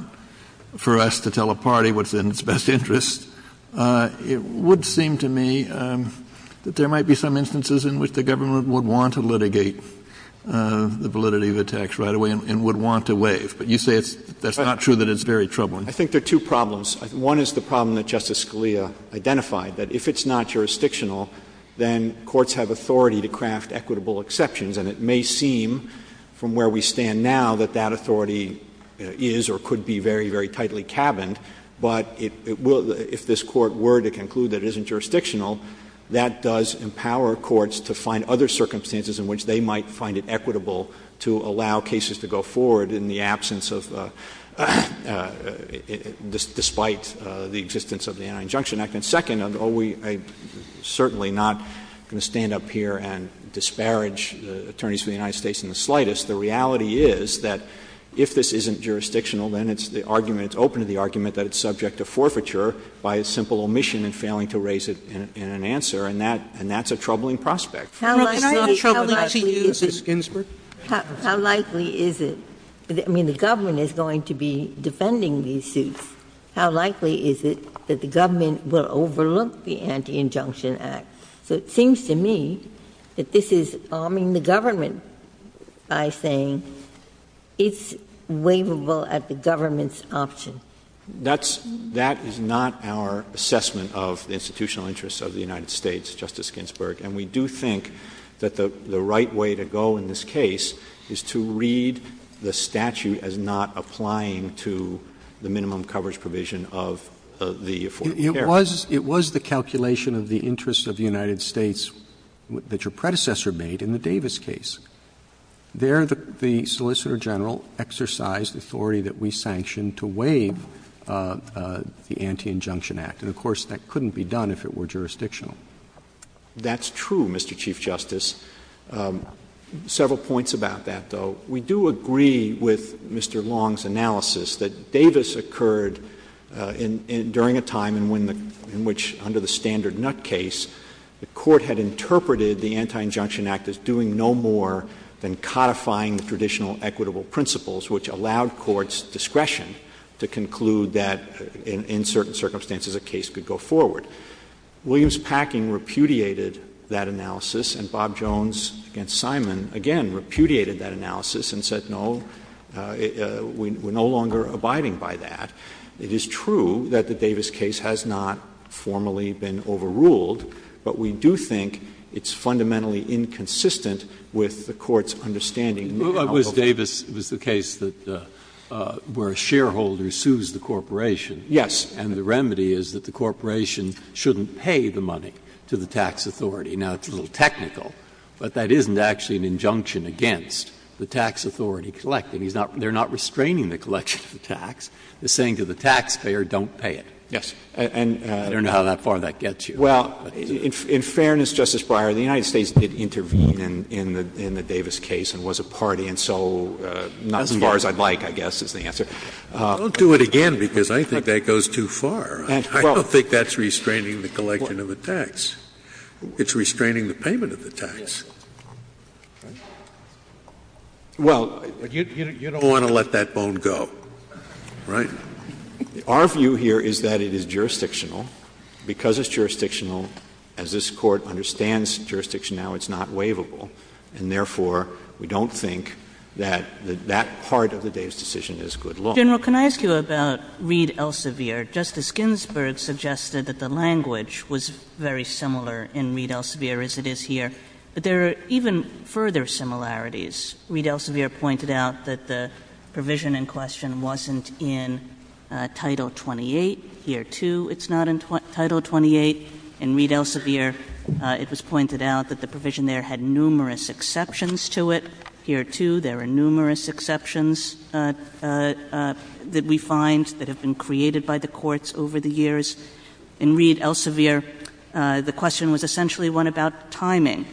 for us to tell a party what's in its best interest. It would seem to me that there might be some instances in which the government would want to litigate the validity of the tax right away and would want to waive. But you say that's not true, that it's very troubling. I think there are two problems. One is the problem that Justice Scalia identified, that if it's not jurisdictional, then courts have authority to craft equitable exceptions. And it may seem from where we stand now that that authority is or could be very, very tightly cabined. But if this Court were to conclude that it isn't jurisdictional, that does empower courts to find other circumstances in which they might find it equitable to allow cases to go forward in the absence of, despite the existence of the Anti-Injunction Act. And second, I'm certainly not going to stand up here and disparage the attorneys of the United States in the slightest. The reality is that if this isn't jurisdictional, then it's the argument, it's open to the argument, that it's subject to forfeiture by simple omission and failing to raise it in an answer. And that's a troubling prospect. Can I interrupt you, Justice Ginsburg? How likely is it? I mean, the government is going to be defending these suits. How likely is it that the government will overlook the Anti-Injunction Act? It seems to me that this is arming the government by saying it's waivable at the government's option. That is not our assessment of the institutional interests of the United States, Justice Ginsburg. And we do think that the right way to go in this case is to read the statute as not applying to the minimum coverage provision of the Affordable Care Act. It was the calculation of the interests of the United States that your predecessor made in the Davis case. There the Solicitor General exercised the authority that we sanctioned to waive the Anti-Injunction Act. And, of course, that couldn't be done if it were jurisdictional. That's true, Mr. Chief Justice. Several points about that, though. We do agree with Mr. Long's analysis that Davis occurred during a time in which, under the standard Nutt case, the Court had interpreted the Anti-Injunction Act as doing no more than codifying the traditional equitable principles, which allowed courts discretion to conclude that, in certain circumstances, a case could go forward. Williams-Packing repudiated that analysis, and Bob Jones, against Simon, again repudiated that analysis and said, no, we're no longer abiding by that. It is true that the Davis case has not formally been overruled, but we do think it's fundamentally inconsistent with the Court's understanding. It was Davis. It was the case where a shareholder sues the corporation. Yes. And the remedy is that the corporation shouldn't pay the money to the tax authority. Now, it's a little technical, but that isn't actually an injunction against the tax authority collecting. They're not restraining the collection of the tax. They're saying to the taxpayer, don't pay it. Yes. I don't know how that far that gets you. Well, in fairness, Justice Breyer, the United States did intervene in the Davis case and was a party. And so not as far as I'd like, I guess, is the answer. I'll do it again because I think that goes too far. I don't think that's restraining the collection of the tax. It's restraining the payment of the tax. Well, you don't want to let that bone go, right? Our view here is that it is jurisdictional. Because it's jurisdictional, as this Court understands jurisdiction now, it's not waivable. And therefore, we don't think that that part of the Davis decision is good law. General, can I ask you about Reed Elsevier? Justice Ginsburg suggested that the language was very similar in Reed Elsevier as it is here. But there are even further similarities. Reed Elsevier pointed out that the provision in question wasn't in Title 28. Here, too, it's not in Title 28. In Reed Elsevier, it was pointed out that the provision there had numerous exceptions to it. Here, too, there are numerous exceptions that we find that have been created by the courts over the years. In Reed Elsevier, the question was essentially one about timing.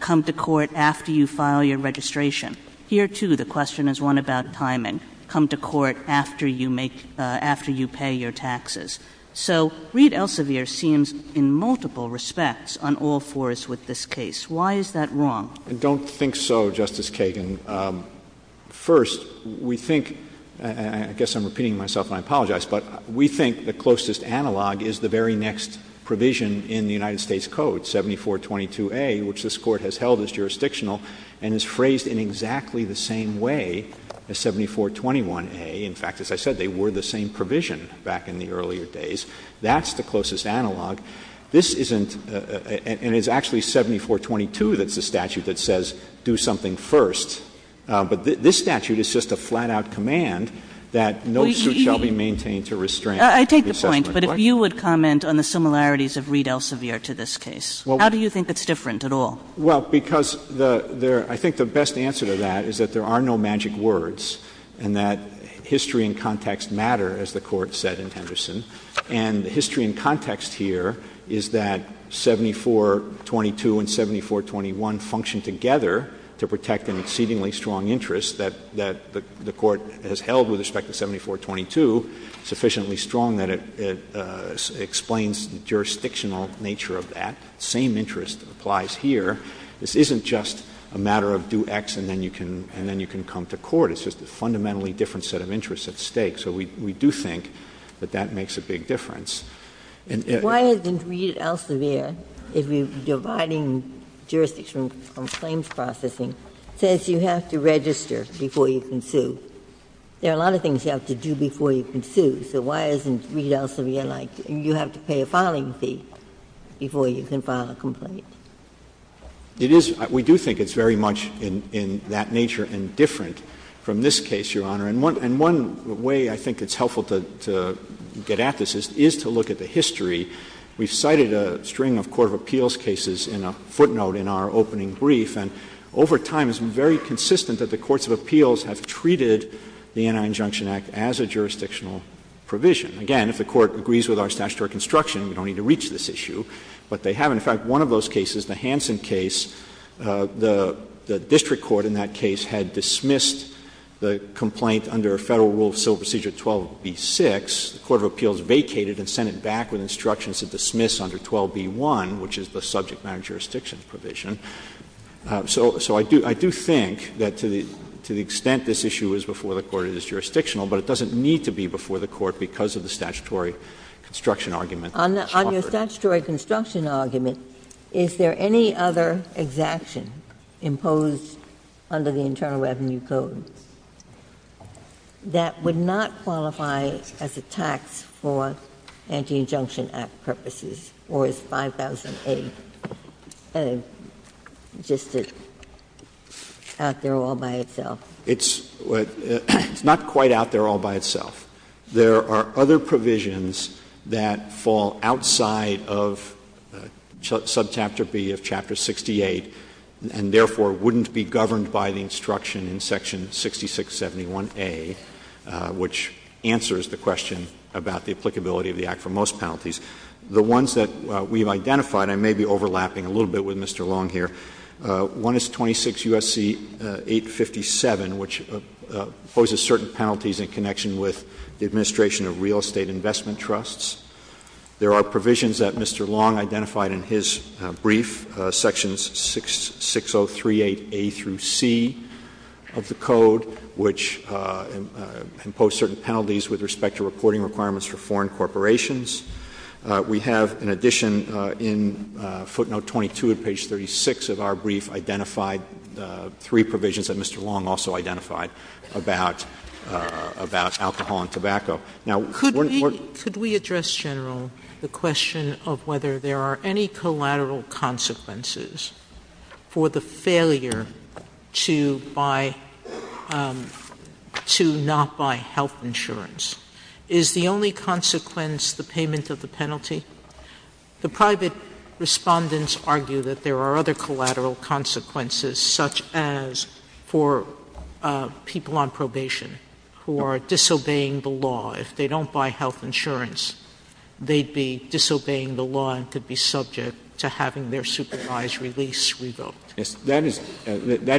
Come to court after you file your registration. Here, too, the question is one about timing. Come to court after you pay your taxes. So Reed Elsevier seems in multiple respects on all fours with this case. Why is that wrong? I don't think so, Justice Kagan. First, we think, and I guess I'm repeating myself and I apologize, but we think the closest analog is the very next provision in the United States Code, 7422a, which this Court has held as jurisdictional and is phrased in exactly the same way as 7421a. In fact, as I said, they were the same provision back in the earlier days. That's the closest analog. This isn't — and it's actually 7422 that's the statute that says do something first, but this statute is just a flat-out command that no suit shall be maintained to restrain. Kagan. I take the point, but if you would comment on the similarities of Reed Elsevier to this case. How do you think it's different at all? Well, because the — I think the best answer to that is that there are no magic words and that history and context matter, as the Court said in Henderson. And the history and context here is that 7422 and 7421 function together to protect an exceedingly strong interest that the Court has held with respect to 7422, sufficiently strong that it explains the jurisdictional nature of that. Same interest applies here. This isn't just a matter of do X and then you can — and then you can come to court. It's just a fundamentally different set of interests at stake. So we do think that that makes a big difference. And if — Why isn't Reed Elsevier, if you're dividing jurisdictions from claims processing, says you have to register before you can sue? There are a lot of things you have to do before you can sue, so why isn't Reed Elsevier It is — we do think it's very much in that nature and different from this case, Your Honor. And one way I think it's helpful to get at this is to look at the history. We've cited a string of court of appeals cases in a footnote in our opening brief, and over time it's been very consistent that the courts of appeals have treated the Anti-Injunction Act as a jurisdictional provision. Again, if the Court agrees with our statutory construction, we don't need to reach this issue. But they haven't. In fact, one of those cases, the Hansen case, the district court in that case had dismissed the complaint under a Federal Rule of Civil Procedure 12b-6. The court of appeals vacated and sent it back with instructions to dismiss under 12b-1, which is the subject matter jurisdiction provision. So I do think that to the extent this issue is before the court, it is jurisdictional, but it doesn't need to be before the court because of the statutory construction argument. On your statutory construction argument, is there any other exaction imposed under the Internal Revenue Code that would not qualify as a tax for Anti-Injunction Act purposes, or is 5000A just out there all by itself? It's not quite out there all by itself. There are other provisions that fall outside of subchapter B of Chapter 68, and therefore wouldn't be governed by the instruction in Section 6671A, which answers the question about the applicability of the Act for most penalties. The ones that we've identified, I may be overlapping a little bit with Mr. Long here. One is 26 U.S.C. 857, which poses certain penalties in connection with the administration of real estate investment trusts. There are provisions that Mr. Long identified in his brief, Sections 6038A through C of the Code, which impose certain penalties with respect to reporting requirements for foreign corporations. We have, in addition, in footnote 22 of page 36 of our brief, identified three provisions that Mr. Long also identified about alcohol and tobacco. Could we address, General, the question of whether there are any collateral consequences for the failure to not buy health insurance? Is the only consequence the payment of the penalty? The private Respondents argue that there are other collateral consequences, such as for people on probation who are disobeying the law. If they don't buy health insurance, they'd be disobeying the law and could be subject to having their supervised release revoked. That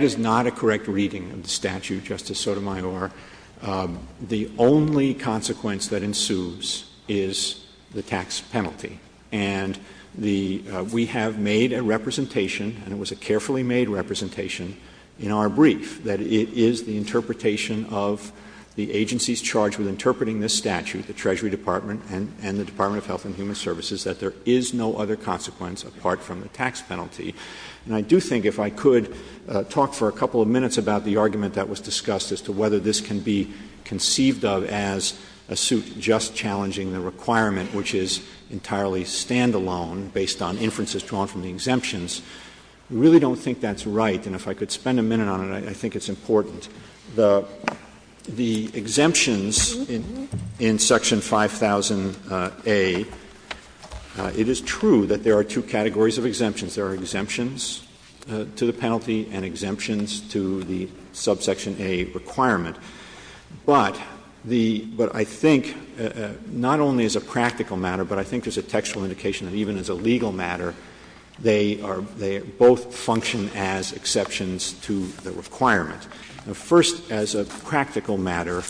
is not a correct reading of the statute, Justice Sotomayor. The only consequence that ensues is the tax penalty. And we have made a representation, and it was a carefully made representation, in our brief that it is the interpretation of the agencies charged with interpreting this statute, the Treasury Department and the Department of Health and Human Services, that there is no other consequence apart from the tax penalty. And I do think if I could talk for a couple of minutes about the argument that was discussed as to whether this can be conceived of as a suit just challenging the requirement, which is entirely standalone based on inferences drawn from the exemptions, I really don't think that's right. And if I could spend a minute on it, I think it's important. The exemptions in Section 5000A, it is true that there are two categories of exemptions. There are exemptions to the penalty and exemptions to the Subsection A requirement. But the — but I think not only as a practical matter, but I think there's a textual indication that even as a legal matter, they are — they both function as exceptions to the requirement. First, as a practical matter,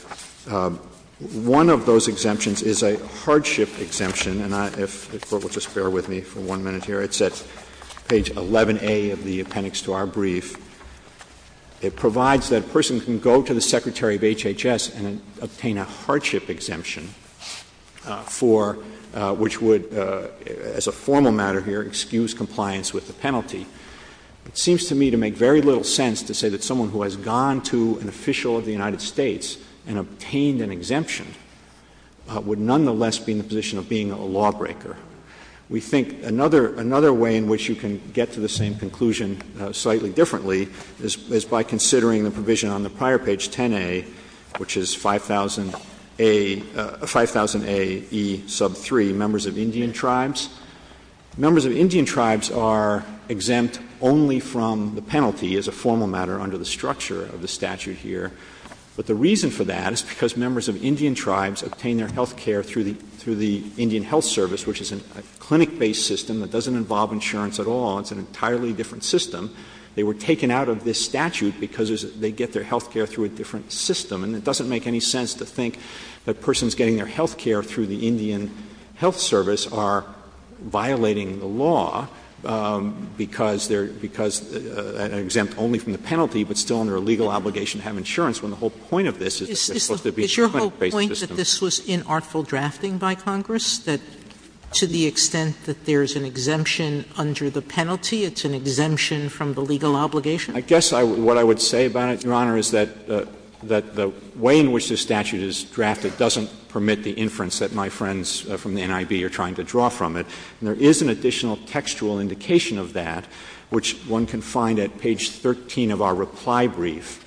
one of those exemptions is a hardship exemption. And if the Court will just bear with me for one minute here, it's at page 11A of the appendix to our brief. It provides that a person can go to the Secretary of HHS and obtain a hardship exemption for — which would, as a formal matter here, excuse compliance with the penalty. It seems to me to make very little sense to say that someone who has gone to an official of the United States and obtained an exemption would nonetheless be in the position of being a lawbreaker. We think another — another way in which you can get to the same conclusion slightly differently is by considering the provision on the prior page, 10A, which is 5000A — 5000A E sub 3, members of Indian tribes. Members of Indian tribes are exempt only from the penalty as a formal matter under the structure of the statute here. But the reason for that is because members of Indian tribes obtain their health care through the — through the Indian Health Service, which is a clinic-based system that doesn't involve insurance at all. It's an entirely different system. They were taken out of this statute because they get their health care through a different system. And it doesn't make any sense to think that persons getting their health care through the Indian Health Service are violating the law because they're — because exempt only from the penalty, but still under a legal obligation to have insurance, when the whole point of this is that there's supposed to be a clinic-based system. Sotomayor, this was inartful drafting by Congress, that to the extent that there's an exemption under the penalty, it's an exemption from the legal obligation? I guess what I would say, Your Honor, is that the way in which this statute is drafted doesn't permit the inference that my friends from the NIB are trying to draw from it. And there is an additional textual indication of that, which one can find at page 13 of our reply brief.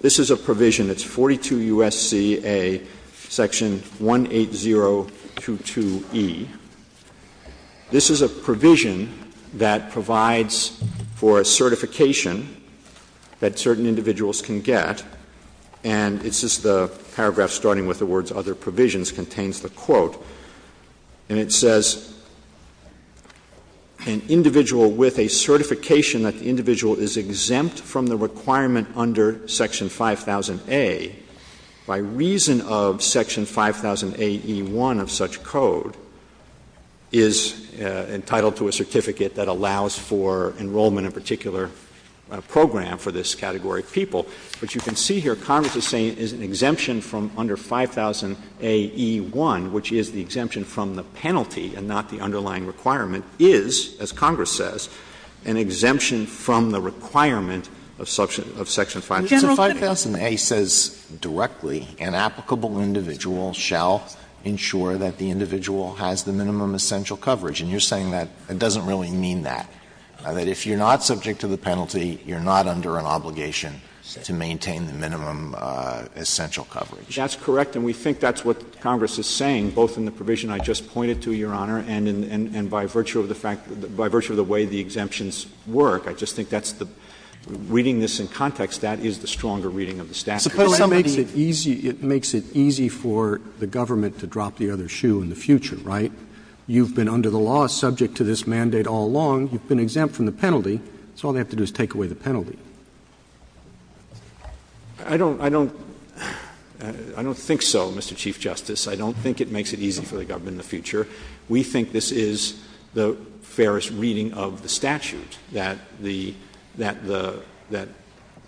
This is a provision. It's 42 U.S.C.A. section 18022E. This is a provision that provides for a certification that certain individuals can get. And it's just the paragraph starting with the words, other provisions, contains the quote. And it says, an individual with a certification that the individual is exempt from the requirement under section 5000A, by reason of section 5000AE1 of such code, is entitled to a certificate that allows for enrollment in a particular program for this category of people. But you can see here, Congress is saying it's an exemption from under 5000AE1, which is the exemption from the penalty and not the underlying requirement, is, as Congress says, an exemption from the requirement of section 5000A. If 5000A says directly, an applicable individual shall ensure that the individual has the minimum essential coverage, and you're saying that it doesn't really mean that. That if you're not subject to the penalty, you're not under an obligation to maintain the minimum essential coverage. That's correct. And we think that's what Congress is saying, both in the provision I just pointed to, Your Honor, and by virtue of the fact — by virtue of the way the exemptions work. I just think that's the — reading this in context, that is the stronger reading of the statute. Suppose somebody — It makes it easy for the government to drop the other shoe in the future, right? You've been under the law subject to this mandate all along. You've been exempt from the penalty, so all they have to do is take away the penalty. I don't — I don't — I don't think so, Mr. Chief Justice. I don't think it makes it easy for the government in the future. We think this is the fairest reading of the statute, that the — that the — that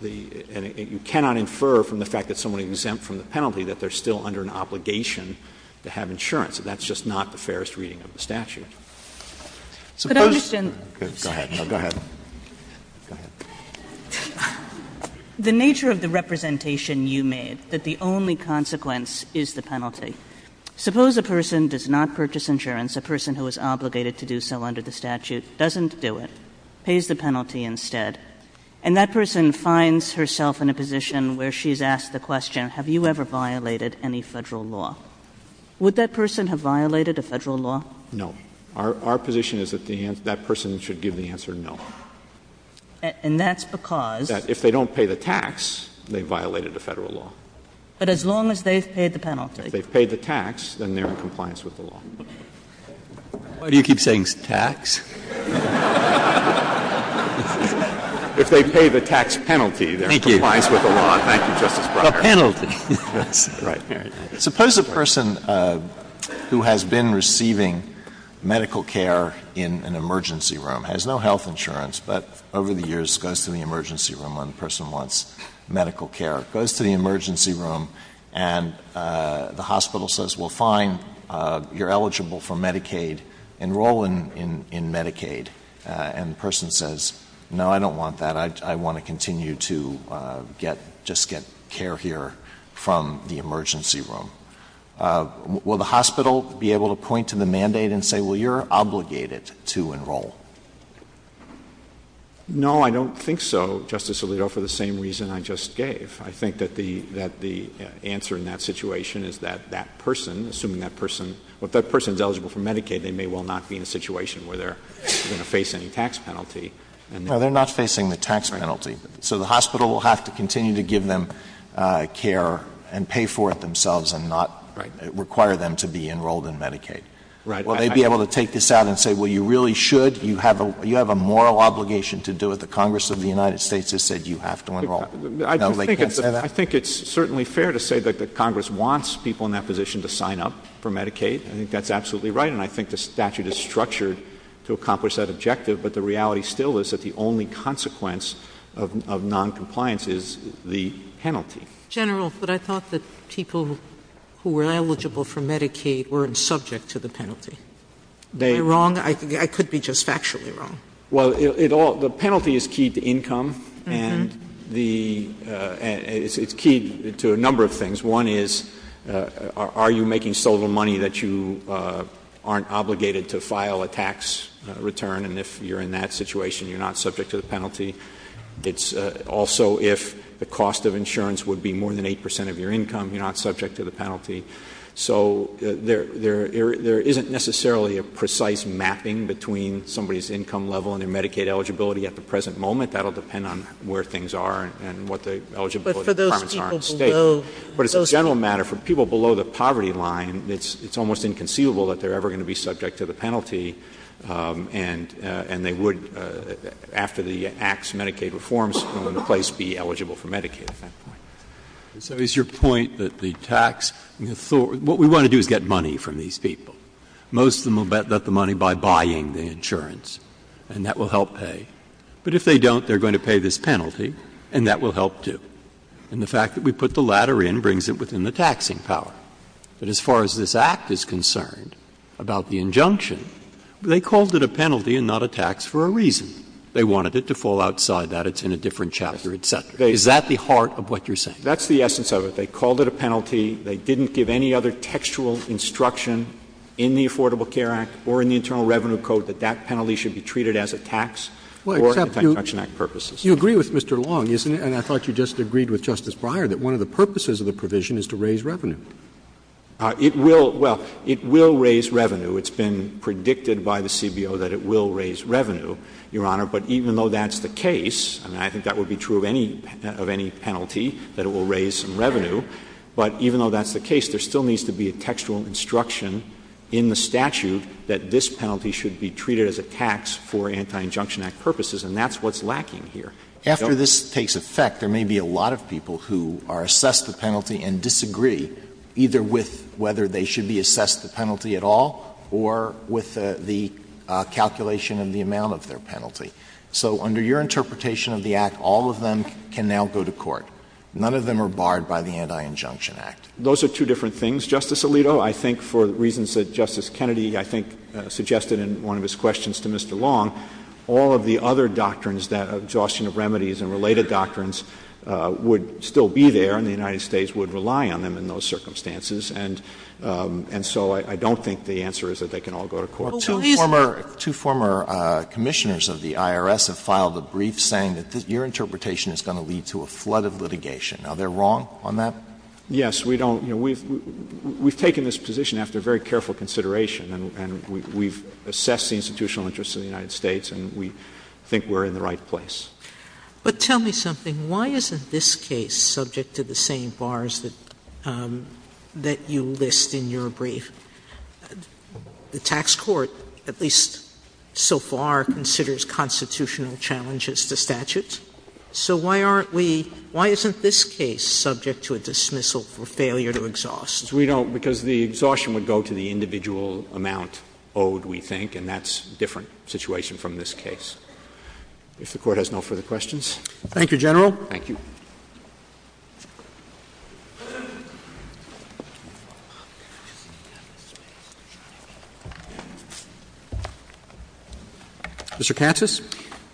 the — and you cannot infer from the fact that someone is exempt from the penalty that they're still under an obligation to have insurance. That's just not the fairest reading of the statute. But I understand — Go ahead. Go ahead. The nature of the representation you made, that the only consequence is the penalty. Suppose a person does not purchase insurance, a person who is obligated to do so under the statute, doesn't do it, pays the penalty instead, and that person finds herself in a position where she's asked the question, have you ever violated any federal law? Would that person have violated a federal law? No. Our position is that that person should give the answer no. And that's because — That if they don't pay the tax, they've violated the federal law. But as long as they've paid the penalty. If they've paid the tax, then they're in compliance with the law. Why do you keep saying tax? If they pay the tax penalty, they're in compliance with the law. Thank you, Justice Breyer. The penalty. Right. Right. Suppose a person who has been receiving medical care in an emergency room, has no health insurance, but over the years goes to the emergency room when a person wants medical care, goes to the emergency room and the hospital says, well, fine, you're eligible for Medicaid, enroll in Medicaid. And the person says, no, I don't want that. I want to continue to get — just get care here from the emergency room. Will the hospital be able to point to the mandate and say, well, you're obligated to enroll? No, I don't think so, Justice Alito, for the same reason I just gave. I think that the answer in that situation is that that person, assuming that person — if that person is eligible for Medicaid, they may well not be in a situation where they're going to face any tax penalty. No, they're not facing the tax penalty. So the hospital will have to continue to give them care and pay for it themselves and not require them to be enrolled in Medicaid. Right. Will they be able to take this out and say, well, you really should? You have a moral obligation to do what the Congress of the United States has said you have to enroll. No, they can't say that. I think it's certainly fair to say that the Congress wants people in that position to sign up for Medicaid. I think that's absolutely right, and I think the statute is structured to accomplish that objective, but the reality still is that the only consequence of noncompliance is the penalty. General, but I thought that people who were eligible for Medicaid weren't subject to the penalty. I could be just factually wrong. Well, the penalty is key to income, and it's key to a number of things. One is, are you making so little money that you aren't obligated to file a tax return and if you're in that situation, you're not subject to the penalty. It's also if the cost of insurance would be more than 8 percent of your income, you're not subject to the penalty. So there isn't necessarily a precise mapping between somebody's income level and their Medicaid eligibility at the present moment. That will depend on where things are and what the eligibility requirements are in the state. But for those people below... But it's a general matter. For people below the poverty line, it's almost inconceivable that they're ever going to be eligible for Medicaid. And they would, after the Act's Medicaid reforms, be eligible for Medicaid. So it's your point that the tax... What we want to do is get money from these people. Most of them will let the money by buying the insurance, and that will help pay. But if they don't, they're going to pay this penalty, and that will help too. And the fact that we put the latter in brings it within the taxing power. But as far as this Act is concerned about the injunction, they called it a penalty and not a tax for a reason. They wanted it to fall outside that. It's in a different chapter, et cetera. Is that the heart of what you're saying? That's the essence of it. They called it a penalty. They didn't give any other textual instruction in the Affordable Care Act or in the Internal Revenue Code that that penalty should be treated as a tax for the Tax Adjunction Act purposes. You agree with Mr. Long, isn't it? And I thought you just agreed with Justice Breyer that one of the purposes of the provision is to raise revenue. It will. Well, it will raise revenue. It's been predicted by the CBO that it will raise revenue, Your Honor. But even though that's the case, and I think that would be true of any penalty, that it will raise revenue. But even though that's the case, there still needs to be a textual instruction in the statute that this penalty should be treated as a tax for Anti-Injunction Act purposes, and that's what's lacking here. After this takes effect, there may be a lot of people who are assessed the penalty and disagree either with whether they should be assessed the penalty at all or with the calculation of the amount of their penalty. So under your interpretation of the Act, all of them can now go to court. None of them are barred by the Anti-Injunction Act. Those are two different things, Justice Alito. I think for reasons that Justice Kennedy, I think, suggested in one of his questions to Mr. Long, all of the other doctrines, the adjustment of remedies and related doctrines, would still be there, and the United States would rely on them in those circumstances. And so I don't think the answer is that they can all go to court. Two former commissioners of the IRS have filed a brief saying that your interpretation is going to lead to a flood of litigation. Are they wrong on that? Yes. We don't — you know, we've taken this position after very careful consideration, and we've assessed the institutional interests of the United States, and we think we're in the right place. But tell me something. Why isn't this case subject to the same bars that you list in your brief? The tax court, at least so far, considers constitutional challenges to statutes. So why aren't we — why isn't this case subject to a dismissal for failure to exhaust? Because we don't — because the exhaustion would go to the individual amount owed, we think, and that's a different situation from this case. If the Court has no further questions. Thank you, General. Thank you. Mr. Katsas.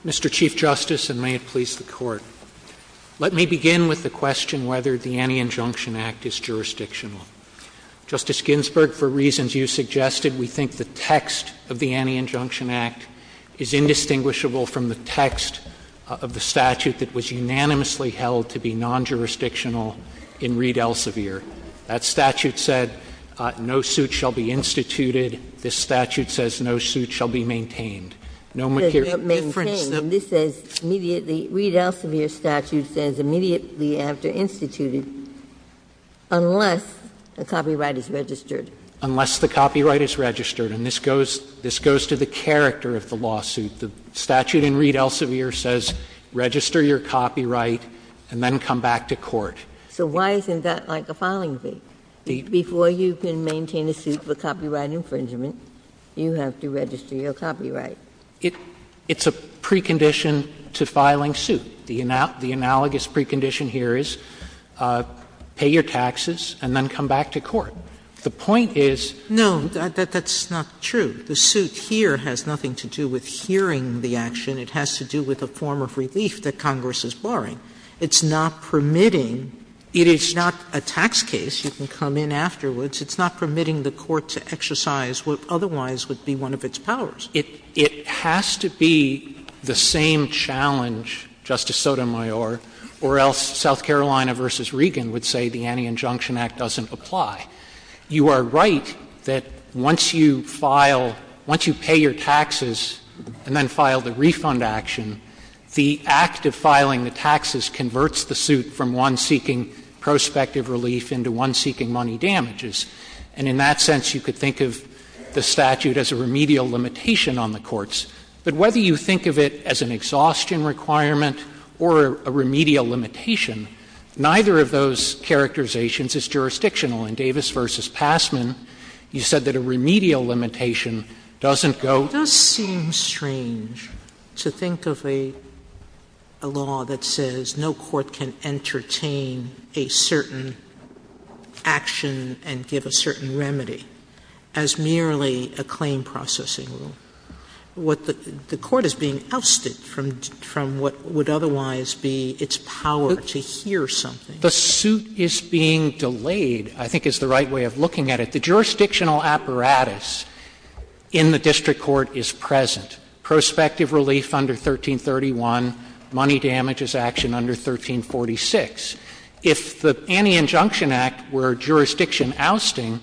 Mr. Chief Justice, and may it please the Court, let me begin with the question whether the Anti-Injunction Act is jurisdictional. Justice Ginsburg, for reasons you suggested, we think the text of the Anti-Injunction Act is indistinguishable from the text of the statute that was unanimously held to be non-jurisdictional in Reed Elsevier. That statute said no suit shall be instituted. This statute says no suit shall be maintained. This says immediately — the Reed Elsevier statute says immediately after instituting unless the copyright is registered. Unless the copyright is registered. And this goes to the character of the lawsuit. The statute in Reed Elsevier says register your copyright and then come back to court. So why isn't that like the filing date? Before you can maintain a suit for copyright infringement, you have to register your copyright. It's a precondition to filing suit. The analogous precondition here is pay your taxes and then come back to court. The point is — No, that's not true. The suit here has nothing to do with hearing the action. It has to do with a form of relief that Congress is barring. It's not permitting — it is not a tax case. You can come in afterwards. It's not permitting the court to exercise what otherwise would be one of its powers. It has to be the same challenge, Justice Sotomayor, or else South Carolina v. Regan would say the Anti-Injunction Act doesn't apply. You are right that once you file — once you pay your taxes and then file the refund action, the act of filing the taxes converts the suit from one seeking prospective relief into one seeking money damages. And in that sense, you could think of the statute as a remedial limitation on the courts. But whether you think of it as an exhaustion requirement or a remedial limitation, neither of those characterizations is jurisdictional. In Davis v. Passman, you said that a remedial limitation doesn't go — It does seem strange to think of a law that says no court can entertain a certain action and give a certain remedy as merely a claim processing rule. The court is being ousted from what would otherwise be its power to hear something. The suit is being delayed, I think, is the right way of looking at it. The jurisdictional apparatus in the district court is present. Prospective relief under 1331, money damages action under 1346. If the Anti-Injunction Act were jurisdiction ousting,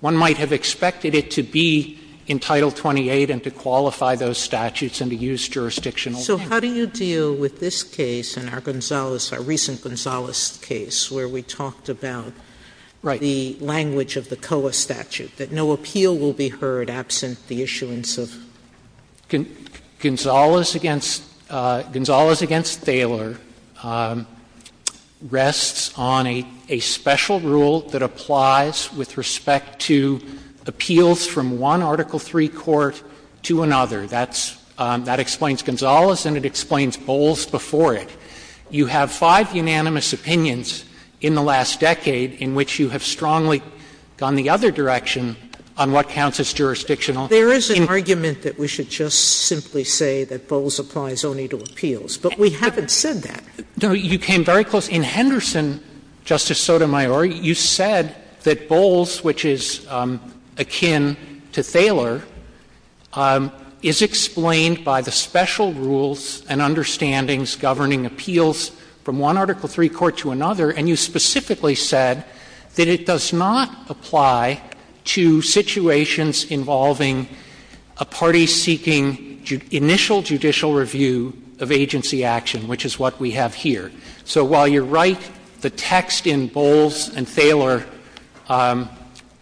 one might have expected it to be in Title 28 and to qualify those statutes and to use jurisdictional — So how do you deal with this case and our Gonzales — our recent Gonzales case, where we talked about the language of the COA statute, that no appeal will be heard absent the issuance of — Gonzales v. Thaler rests on a special rule that applies with respect to appeals from one Article III court to another. That explains Gonzales and it explains Bowles before it. You have five unanimous opinions in the last decade in which you have strongly gone the other direction on what counts as jurisdictional. There is an argument that we should just simply say that Bowles applies only to appeals, but we haven't said that. No, you came very close. The text, which is akin to Thaler, is explained by the special rules and understandings governing appeals from one Article III court to another, and you specifically said that it does not apply to situations involving a party seeking initial judicial review of agency action, which is what we have here. So while you're right, the text in Bowles and Thaler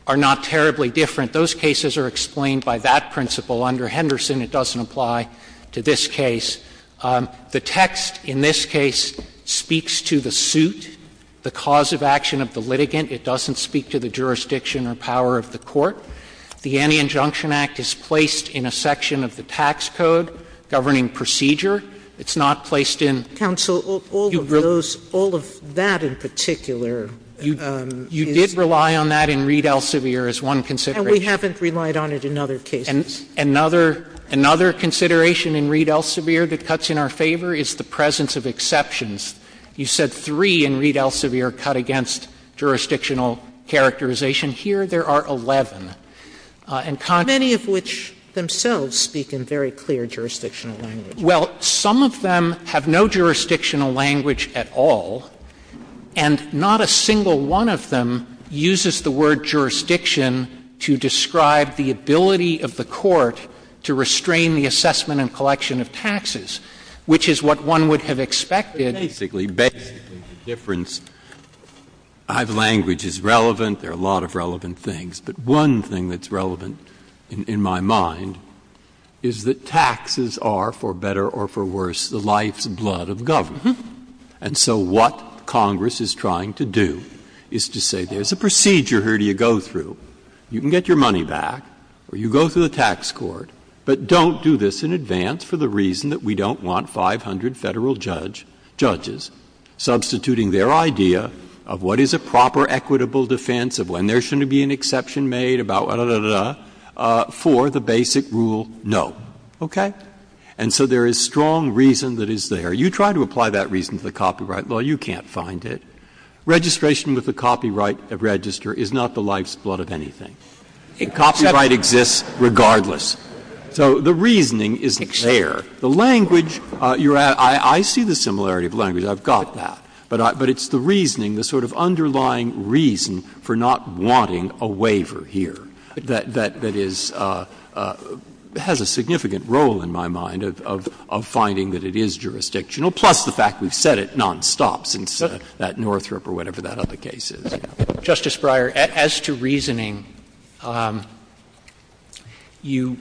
are not terribly different. Those cases are explained by that principle. Under Henderson, it doesn't apply to this case. The text in this case speaks to the suit, the cause of action of the litigant. It doesn't speak to the jurisdiction or power of the court. The Anti-Injunction Act is placed in a section of the tax code governing procedure. It's not placed in — Counsel, all of those, all of that in particular — You did rely on that in Reed Elsevier as one consideration. And we haven't relied on it in other cases. Another consideration in Reed Elsevier that cuts in our favor is the presence of exceptions. You said three in Reed Elsevier cut against jurisdictional characterization. Here there are 11. Many of which themselves speak in very clear jurisdictional language. Well, some of them have no jurisdictional language at all, and not a single one of them uses the word jurisdiction to describe the ability of the court to restrain the assessment and collection of taxes, which is what one would have expected. Basically, basically the difference — language is relevant. There are a lot of relevant things. But one thing that's relevant in my mind is that taxes are, for better or for worse, the lifeblood of government. And so what Congress is trying to do is to say there's a procedure here to go through. You can get your money back, or you go through the tax court, but don't do this in advance for the reason that we don't want 500 federal judges substituting their idea of what is a proper equitable defense of when there should be an exception made about da-da-da-da for the basic rule no. Okay? And so there is strong reason that is there. You try to apply that reason to the copyright, well, you can't find it. Registration with a copyright register is not the lifeblood of anything. Copyright exists regardless. So the reasoning is there. The language — I see the similarity of language, I've got that. But it's the reasoning, the sort of underlying reason for not wanting a waiver here, that has a significant role in my mind of finding that it is jurisdictional, plus the fact we've said it nonstop since that Northrop or whatever that other case is. Justice Breyer, as to reasoning, you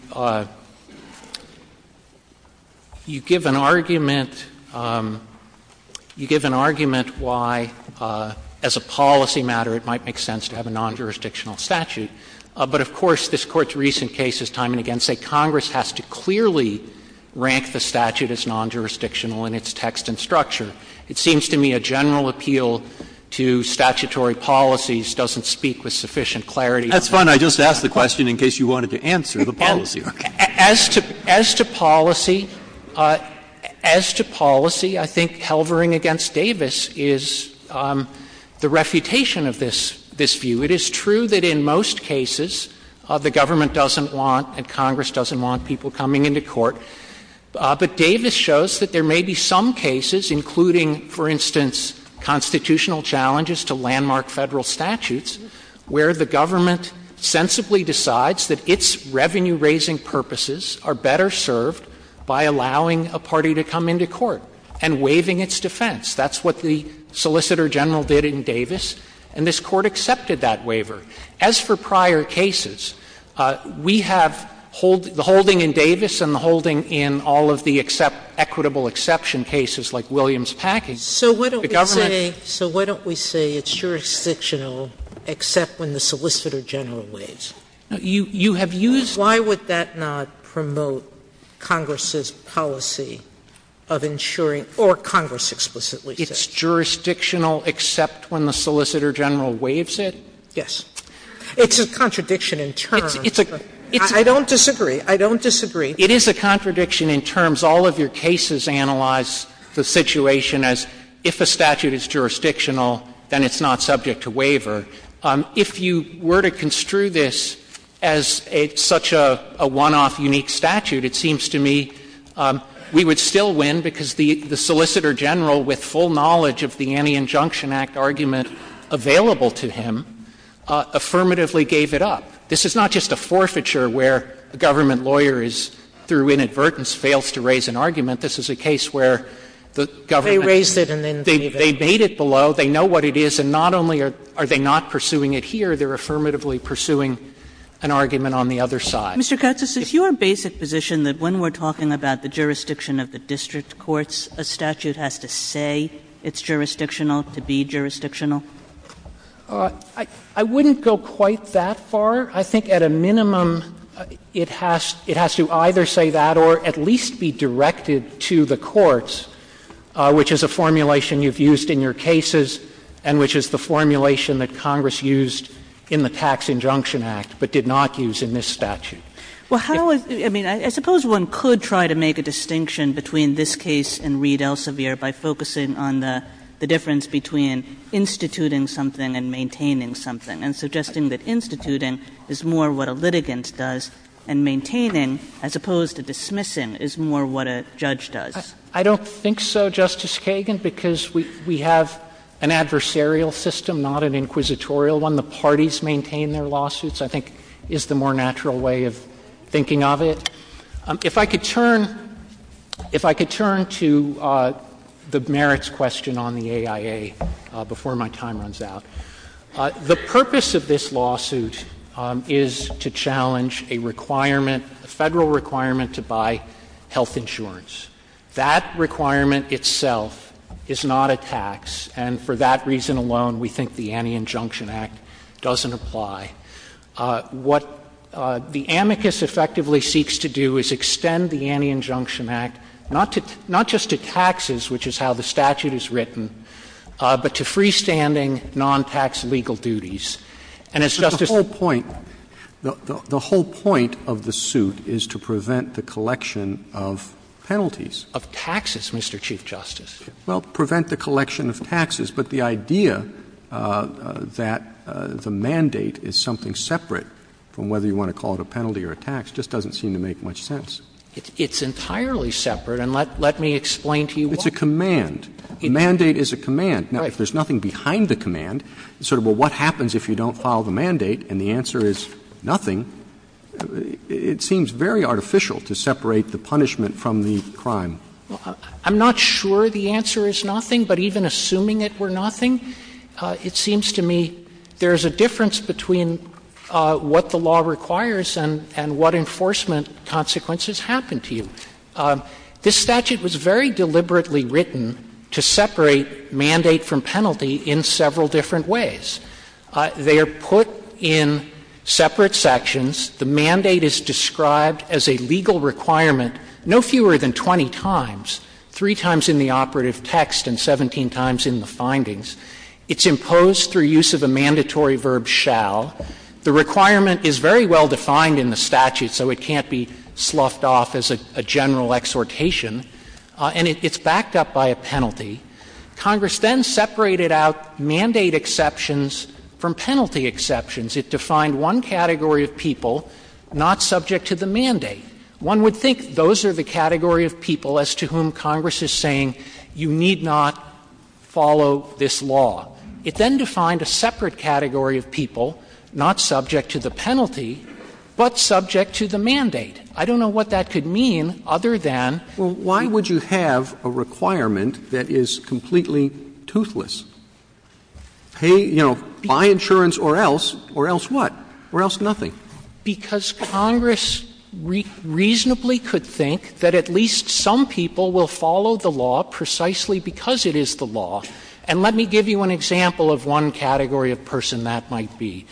give an argument why, as a policy matter, it might make sense to have a non-jurisdictional statute. But of course, this Court's recent cases time and again say Congress has to clearly rank the statute as non-jurisdictional in its text and structure. It seems to me a general appeal to statutory policies doesn't speak with sufficient clarity. That's fine. I just asked the question in case you wanted to answer the policy. As to policy, as to policy, I think pelvering against Davis is the refutation of this view. It is true that in most cases the government doesn't want and Congress doesn't want people coming into court. But Davis shows that there may be some cases, including, for instance, constitutional challenges to landmark Federal statutes, where the government sensibly decides that its revenue-raising purposes are better served by allowing a party to come into court and waiving its defense. That's what the Solicitor General did in Davis, and this Court accepted that waiver. As for prior cases, we have the holding in Davis and the holding in all of the equitable exception cases like Williams Packing. The government — So why don't we say it's jurisdictional except when the Solicitor General waives it? You have used — Why would that not promote Congress's policy of ensuring — or Congress explicitly says. It's jurisdictional except when the Solicitor General waives it? Yes. It's a contradiction in terms. I don't disagree. I don't disagree. It is a contradiction in terms. All of your cases analyze the situation as if a statute is jurisdictional, then it's not subject to waiver. If you were to construe this as such a one-off unique statute, it seems to me we would still win because the Solicitor General, with full knowledge of the Anti-Injunction Act argument available to him, affirmatively gave it up. This is not just a forfeiture where a government lawyer is — through inadvertence fails to raise an argument. This is a case where the government — They raised it and then — They made it below. They know what it is, and not only are they not pursuing it here, they're affirmatively pursuing an argument on the other side. Mr. Curtis, is your basic position that when we're talking about the jurisdiction of the district courts, a statute has to say it's jurisdictional to be jurisdictional? I wouldn't go quite that far. I think at a minimum it has to either say that or at least be directed to the courts, which is a formulation you've used in your cases and which is the formulation that Congress used in the Tax Injunction Act but did not use in this statute. I suppose one could try to make a distinction between this case and Reed Elsevier by focusing on the difference between instituting something and maintaining something and suggesting that instituting is more what a litigant does and maintaining as opposed to dismissing is more what a judge does. I don't think so, Justice Kagan, because we have an adversarial system, not an inquisitorial one. How can the parties maintain their lawsuits I think is the more natural way of thinking of it. If I could turn to the merits question on the AIA before my time runs out. The purpose of this lawsuit is to challenge a requirement, a federal requirement to buy health insurance. That requirement itself is not a tax, and for that reason alone we think the Anti-Injunction Act doesn't apply. What the amicus effectively seeks to do is extend the Anti-Injunction Act not just to taxes, which is how the statute is written, but to freestanding non-tax legal duties. And it's just a — But the whole point, the whole point of the suit is to prevent the collection of penalties. Of taxes, Mr. Chief Justice. Well, prevent the collection of taxes, but the idea that the mandate is something separate from whether you want to call it a penalty or a tax just doesn't seem to make much sense. It's entirely separate, and let me explain to you why. It's a command. A mandate is a command. Now, if there's nothing behind the command, sort of a what happens if you don't file the mandate and the answer is nothing, it seems very artificial to separate the punishment from the crime. I'm not sure the answer is nothing, but even assuming it were nothing, it seems to me there's a difference between what the law requires and what enforcement consequences happen to you. This statute was very deliberately written to separate mandate from penalty in several different ways. They are put in separate sections. The mandate is described as a legal requirement no fewer than 20 times, three times in the operative text and 17 times in the findings. It's imposed through use of the mandatory verb shall. The requirement is very well defined in the statute, so it can't be sloughed off as a general exhortation, and it's backed up by a penalty. Congress then separated out mandate exceptions from penalty exceptions. It defined one category of people not subject to the mandate. One would think those are the category of people as to whom Congress is saying you need not follow this law. It then defined a separate category of people not subject to the penalty but subject to the mandate. I don't know what that could mean other than — Well, why would you have a requirement that is completely toothless? Hey, you know, buy insurance or else. Or else what? Or else nothing. Because Congress reasonably could think that at least some people will follow the law precisely because it is the law. And let me give you an example of one category of person that might be.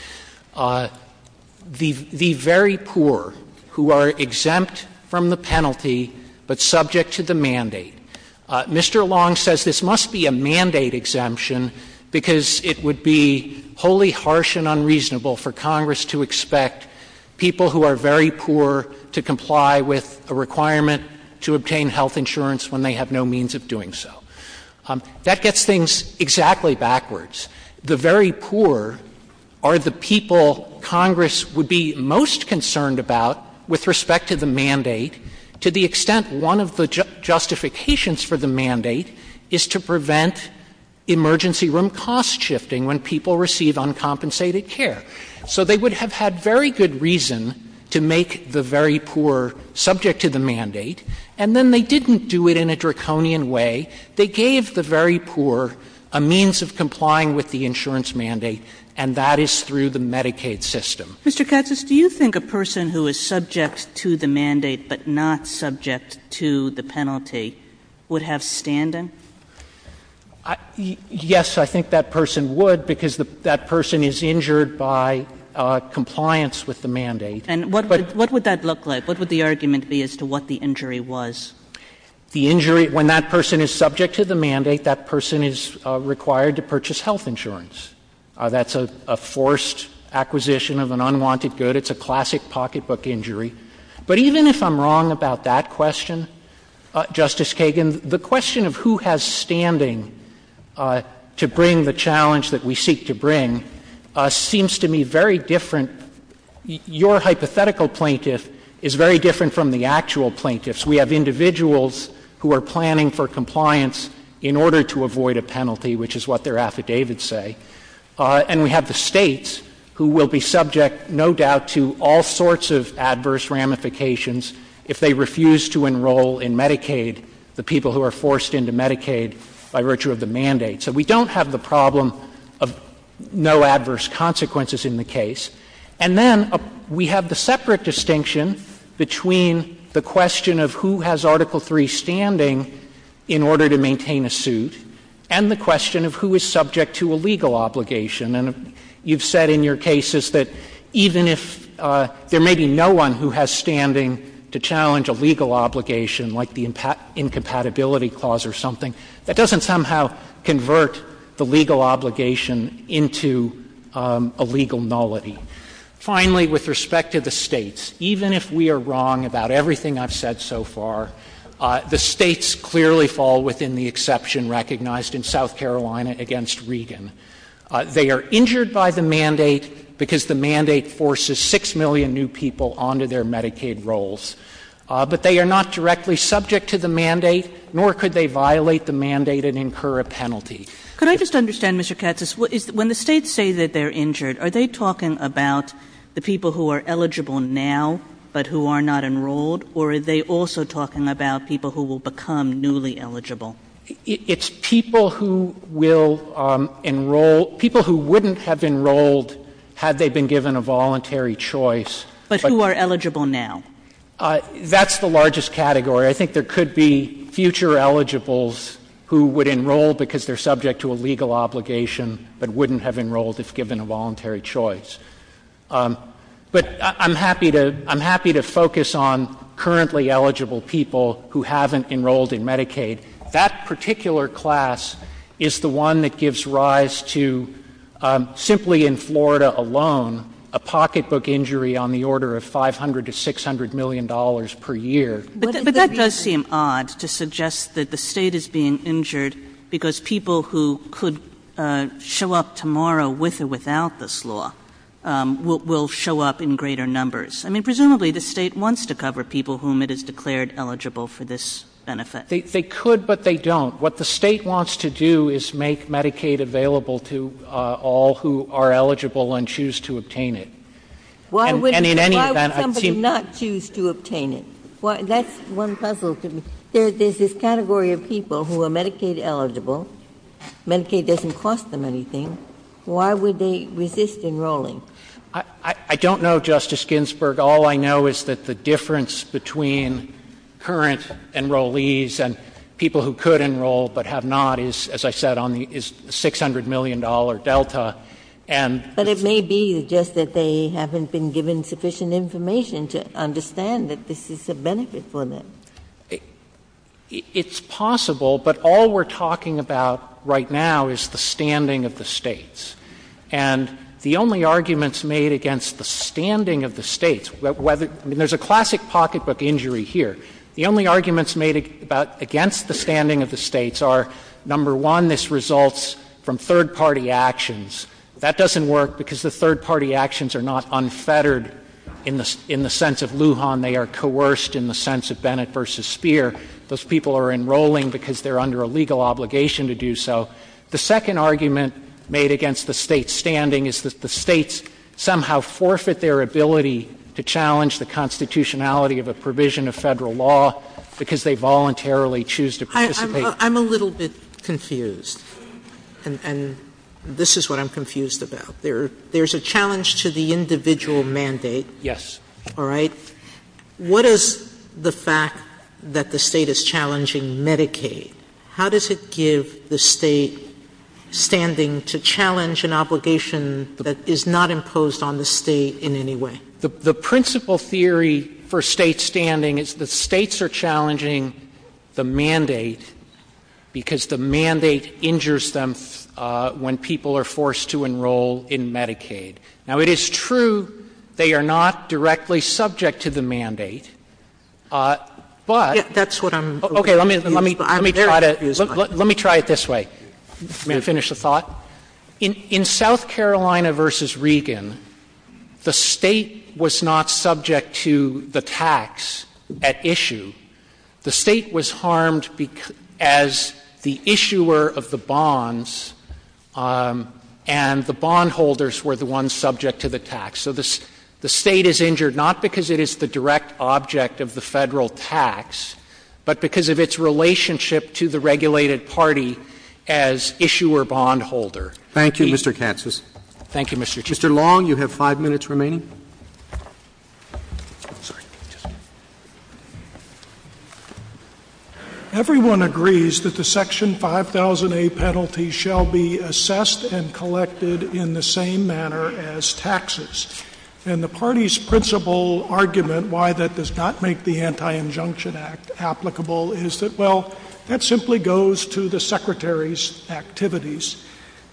The very poor who are exempt from the penalty but subject to the mandate. Mr. Long says this must be a mandate exemption because it would be wholly harsh and unreasonable for Congress to expect people who are very poor to comply with a requirement to obtain health insurance when they have no means of doing so. That gets things exactly backwards. The very poor are the people Congress would be most concerned about with respect to the mandate to the extent one of the justifications for the mandate is to prevent emergency room cost shifting when people receive uncompensated care. So they would have had very good reason to make the very poor subject to the mandate, and then they didn't do it in a draconian way. They gave the very poor a means of complying with the insurance mandate, and that is through the Medicaid system. Mr. Katz, do you think a person who is subject to the mandate but not subject to the penalty would have stand-in? Yes, I think that person would because that person is injured by compliance with the mandate. And what would that look like? What would the argument be as to what the injury was? The injury, when that person is subject to the mandate, that person is required to purchase health insurance. That's a forced acquisition of an unwanted good. It's a classic pocketbook injury. But even if I'm wrong about that question, Justice Kagan, the question of who has standing to bring the challenge that we seek to bring seems to me very different. Your hypothetical plaintiff is very different from the actual plaintiffs. We have individuals who are planning for compliance in order to avoid a penalty, which is what their affidavits say, and we have the states who will be subject, no doubt, to all sorts of adverse ramifications if they refuse to enroll in Medicaid, the people who are forced into Medicaid by virtue of the mandate. So we don't have the problem of no adverse consequences in the case. And then we have the separate distinction between the question of who has Article III standing in order to maintain a suit and the question of who is subject to a legal obligation. And you've said in your cases that even if there may be no one who has standing to challenge a legal obligation, like the Incompatibility Clause or something, that doesn't somehow convert the legal obligation into a legal nullity. Finally, with respect to the states, even if we are wrong about everything I've said so far, the states clearly fall within the exception recognized in South Carolina against Regan. They are injured by the mandate because the mandate forces 6 million new people onto their Medicaid rolls. But they are not directly subject to the mandate, nor could they violate the mandate and incur a penalty. Could I just understand, Mr. Katsas, when the states say that they're injured, are they talking about the people who are eligible now but who are not enrolled, or are they also talking about people who will become newly eligible? It's people who will enroll, people who wouldn't have enrolled had they been given a voluntary choice. But who are eligible now? That's the largest category. I think there could be future eligibles who would enroll because they're subject to a legal obligation but wouldn't have enrolled if given a voluntary choice. But I'm happy to focus on currently eligible people who haven't enrolled in Medicaid. That particular class is the one that gives rise to, simply in Florida alone, a pocketbook injury on the order of $500 million to $600 million per year. But that does seem odd to suggest that the state is being injured because people who could show up tomorrow with or without this law will show up in greater numbers. I mean, presumably the state wants to cover people whom it has declared eligible for this benefit. They could, but they don't. What the state wants to do is make Medicaid available to all who are eligible and choose to obtain it. Why would somebody not choose to obtain it? That's one puzzle for me. There's this category of people who are Medicaid eligible. Medicaid doesn't cost them anything. Why would they resist enrolling? I don't know, Justice Ginsburg. All I know is that the difference between current enrollees and people who could enroll but have not is, as I said, on the $600 million delta. But it may be just that they haven't been given sufficient information to understand that this is a benefit for them. It's possible, but all we're talking about right now is the standing of the states. And the only arguments made against the standing of the states, I mean, there's a classic pocketbook injury here. The only arguments made against the standing of the states are, number one, this results from third-party actions. That doesn't work because the third-party actions are not unfettered in the sense of Lujan. They are coerced in the sense of Bennett v. Speer. Those people are enrolling because they're under a legal obligation to do so. The second argument made against the states' standing is that the states somehow forfeit their ability to challenge the constitutionality of a provision of federal law because they voluntarily choose to participate. I'm a little bit confused, and this is what I'm confused about. There's a challenge to the individual mandate. Yes. All right? What is the fact that the state is challenging Medicaid? How does it give the state standing to challenge an obligation that is not imposed on the state in any way? Because the mandate injures them when people are forced to enroll in Medicaid. Now, it is true they are not directly subject to the mandate, but... That's what I'm... Okay, let me try it this way. Let me finish the thought. In South Carolina v. Regan, the state was not subject to the tax at issue. The state was harmed as the issuer of the bonds, and the bondholders were the ones subject to the tax. So the state is injured not because it is the direct object of the federal tax, but because of its relationship to the regulated party as issuer-bondholder. Thank you, Mr. Katsas. Thank you, Mr. Chief. Mr. Long, you have five minutes remaining. Everyone agrees that the Section 5000A penalty shall be assessed and collected in the same manner as taxes. And the party's principal argument why that does not make the Anti-Injunction Act applicable is that, well, that simply goes to the Secretary's activities.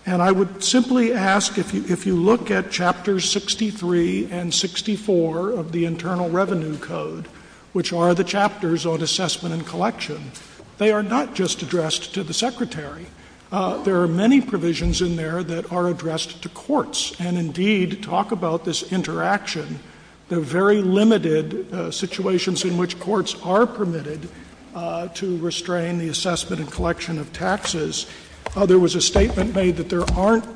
And I would simply ask if you look at Chapter 63 and 64 of the Internal Revenue Code, which are the chapters on assessment and collection, they are not just addressed to the Secretary. There are many provisions in there that are addressed to courts and, indeed, talk about this interaction. There are very limited situations in which courts are permitted to restrain the assessment and collection of taxes. There was a statement made that there aren't,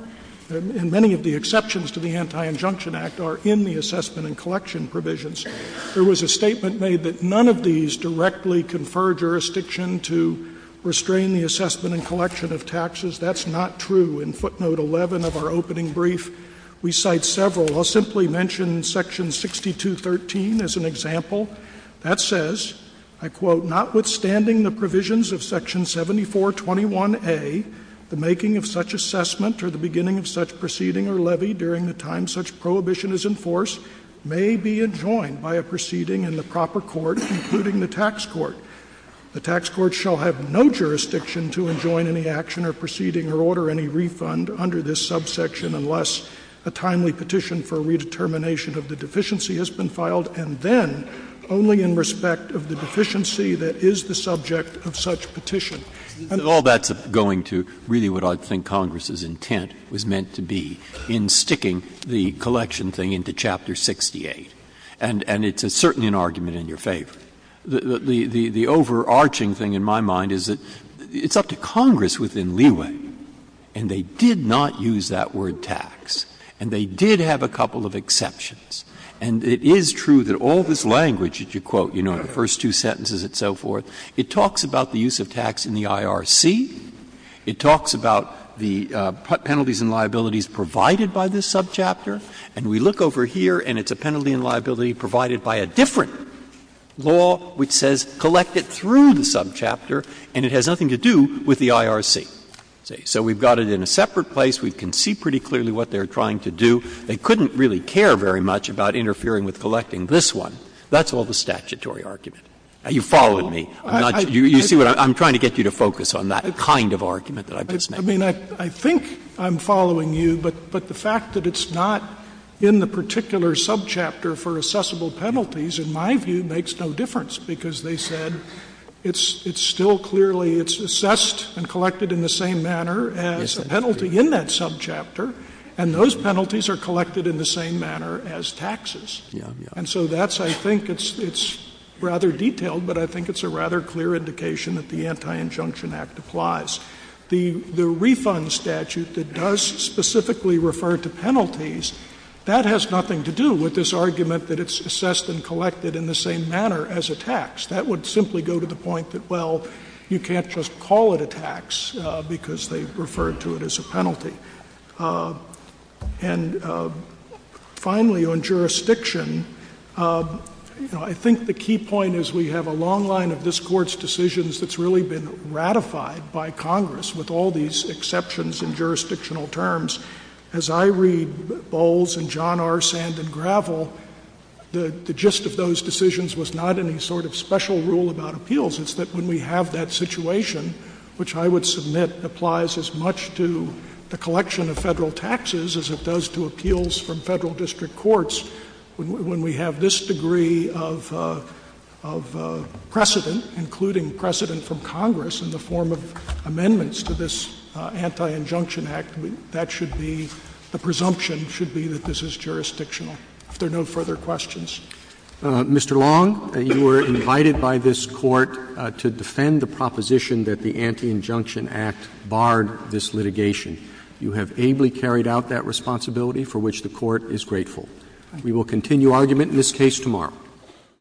and many of the exceptions to the Anti-Injunction Act are in the assessment and collection provisions. There was a statement made that none of these directly confer jurisdiction to restrain the assessment and collection of taxes. That's not true. In footnote 11 of our opening brief, we cite several. I'll simply mention Section 6213 as an example. That says, I quote, Notwithstanding the provisions of Section 7421A, the making of such assessment or the beginning of such proceeding or levy during the time such prohibition is enforced may be enjoined by a proceeding in the proper court, including the tax court. The tax court shall have no jurisdiction to enjoin any action or proceeding or order any refund under this subsection unless a timely petition for redetermination of the deficiency has been filed, and then only in respect of the deficiency that is the subject of such petition. And all that's going to really what I think Congress's intent was meant to be in sticking the collection thing into Chapter 68. And it's certainly an argument in your favor. The overarching thing in my mind is that it's up to Congress within leeway, and they did not use that word tax, and they did have a couple of exceptions. And it is true that all this language that you quote, you know, the first two sentences and so forth, it talks about the use of tax in the IRC. It talks about the penalties and liabilities provided by this subchapter. And we look over here, and it's a penalty and liability provided by a different law which says collect it through the subchapter, and it has nothing to do with the IRC. So we've got it in a separate place. We can see pretty clearly what they're trying to do. They couldn't really care very much about interfering with collecting this one. That's all the statutory argument. You're following me. You see what I'm trying to get you to focus on, that kind of argument that I've just made. I mean, I think I'm following you, but the fact that it's not in the particular subchapter for assessable penalties, in my view, makes no difference, because they said it's still clearly assessed and collected in the same manner as the penalty in that subchapter, and those penalties are collected in the same manner as taxes. And so that's, I think, it's rather detailed, but I think it's a rather clear indication that the Anti-Injunction Act applies. The refund statute that does specifically refer to penalties, that has nothing to do with this argument that it's assessed and collected in the same manner as a tax. That would simply go to the point that, well, you can't just call it a tax because they refer to it as a penalty. And finally, on jurisdiction, I think the key point is we have a long line of this Court's decisions that's really been ratified by Congress, with all these exceptions in jurisdictional terms. As I read Bowles and John R. Sand and Gravel, the gist of those decisions was not any sort of special rule about appeals. It's that when we have that situation, which I would submit applies as much to the collection of federal taxes as it does to appeals from federal district courts, when we have this degree of precedent, including precedent from Congress in the form of amendments to this Anti-Injunction Act, that should be the presumption should be that this is jurisdictional. If there are no further questions. Mr. Long, you were invited by this Court to defend the proposition that the Anti-Injunction Act barred this litigation. You have ably carried out that responsibility for which the Court is grateful. We will continue argument in this case tomorrow.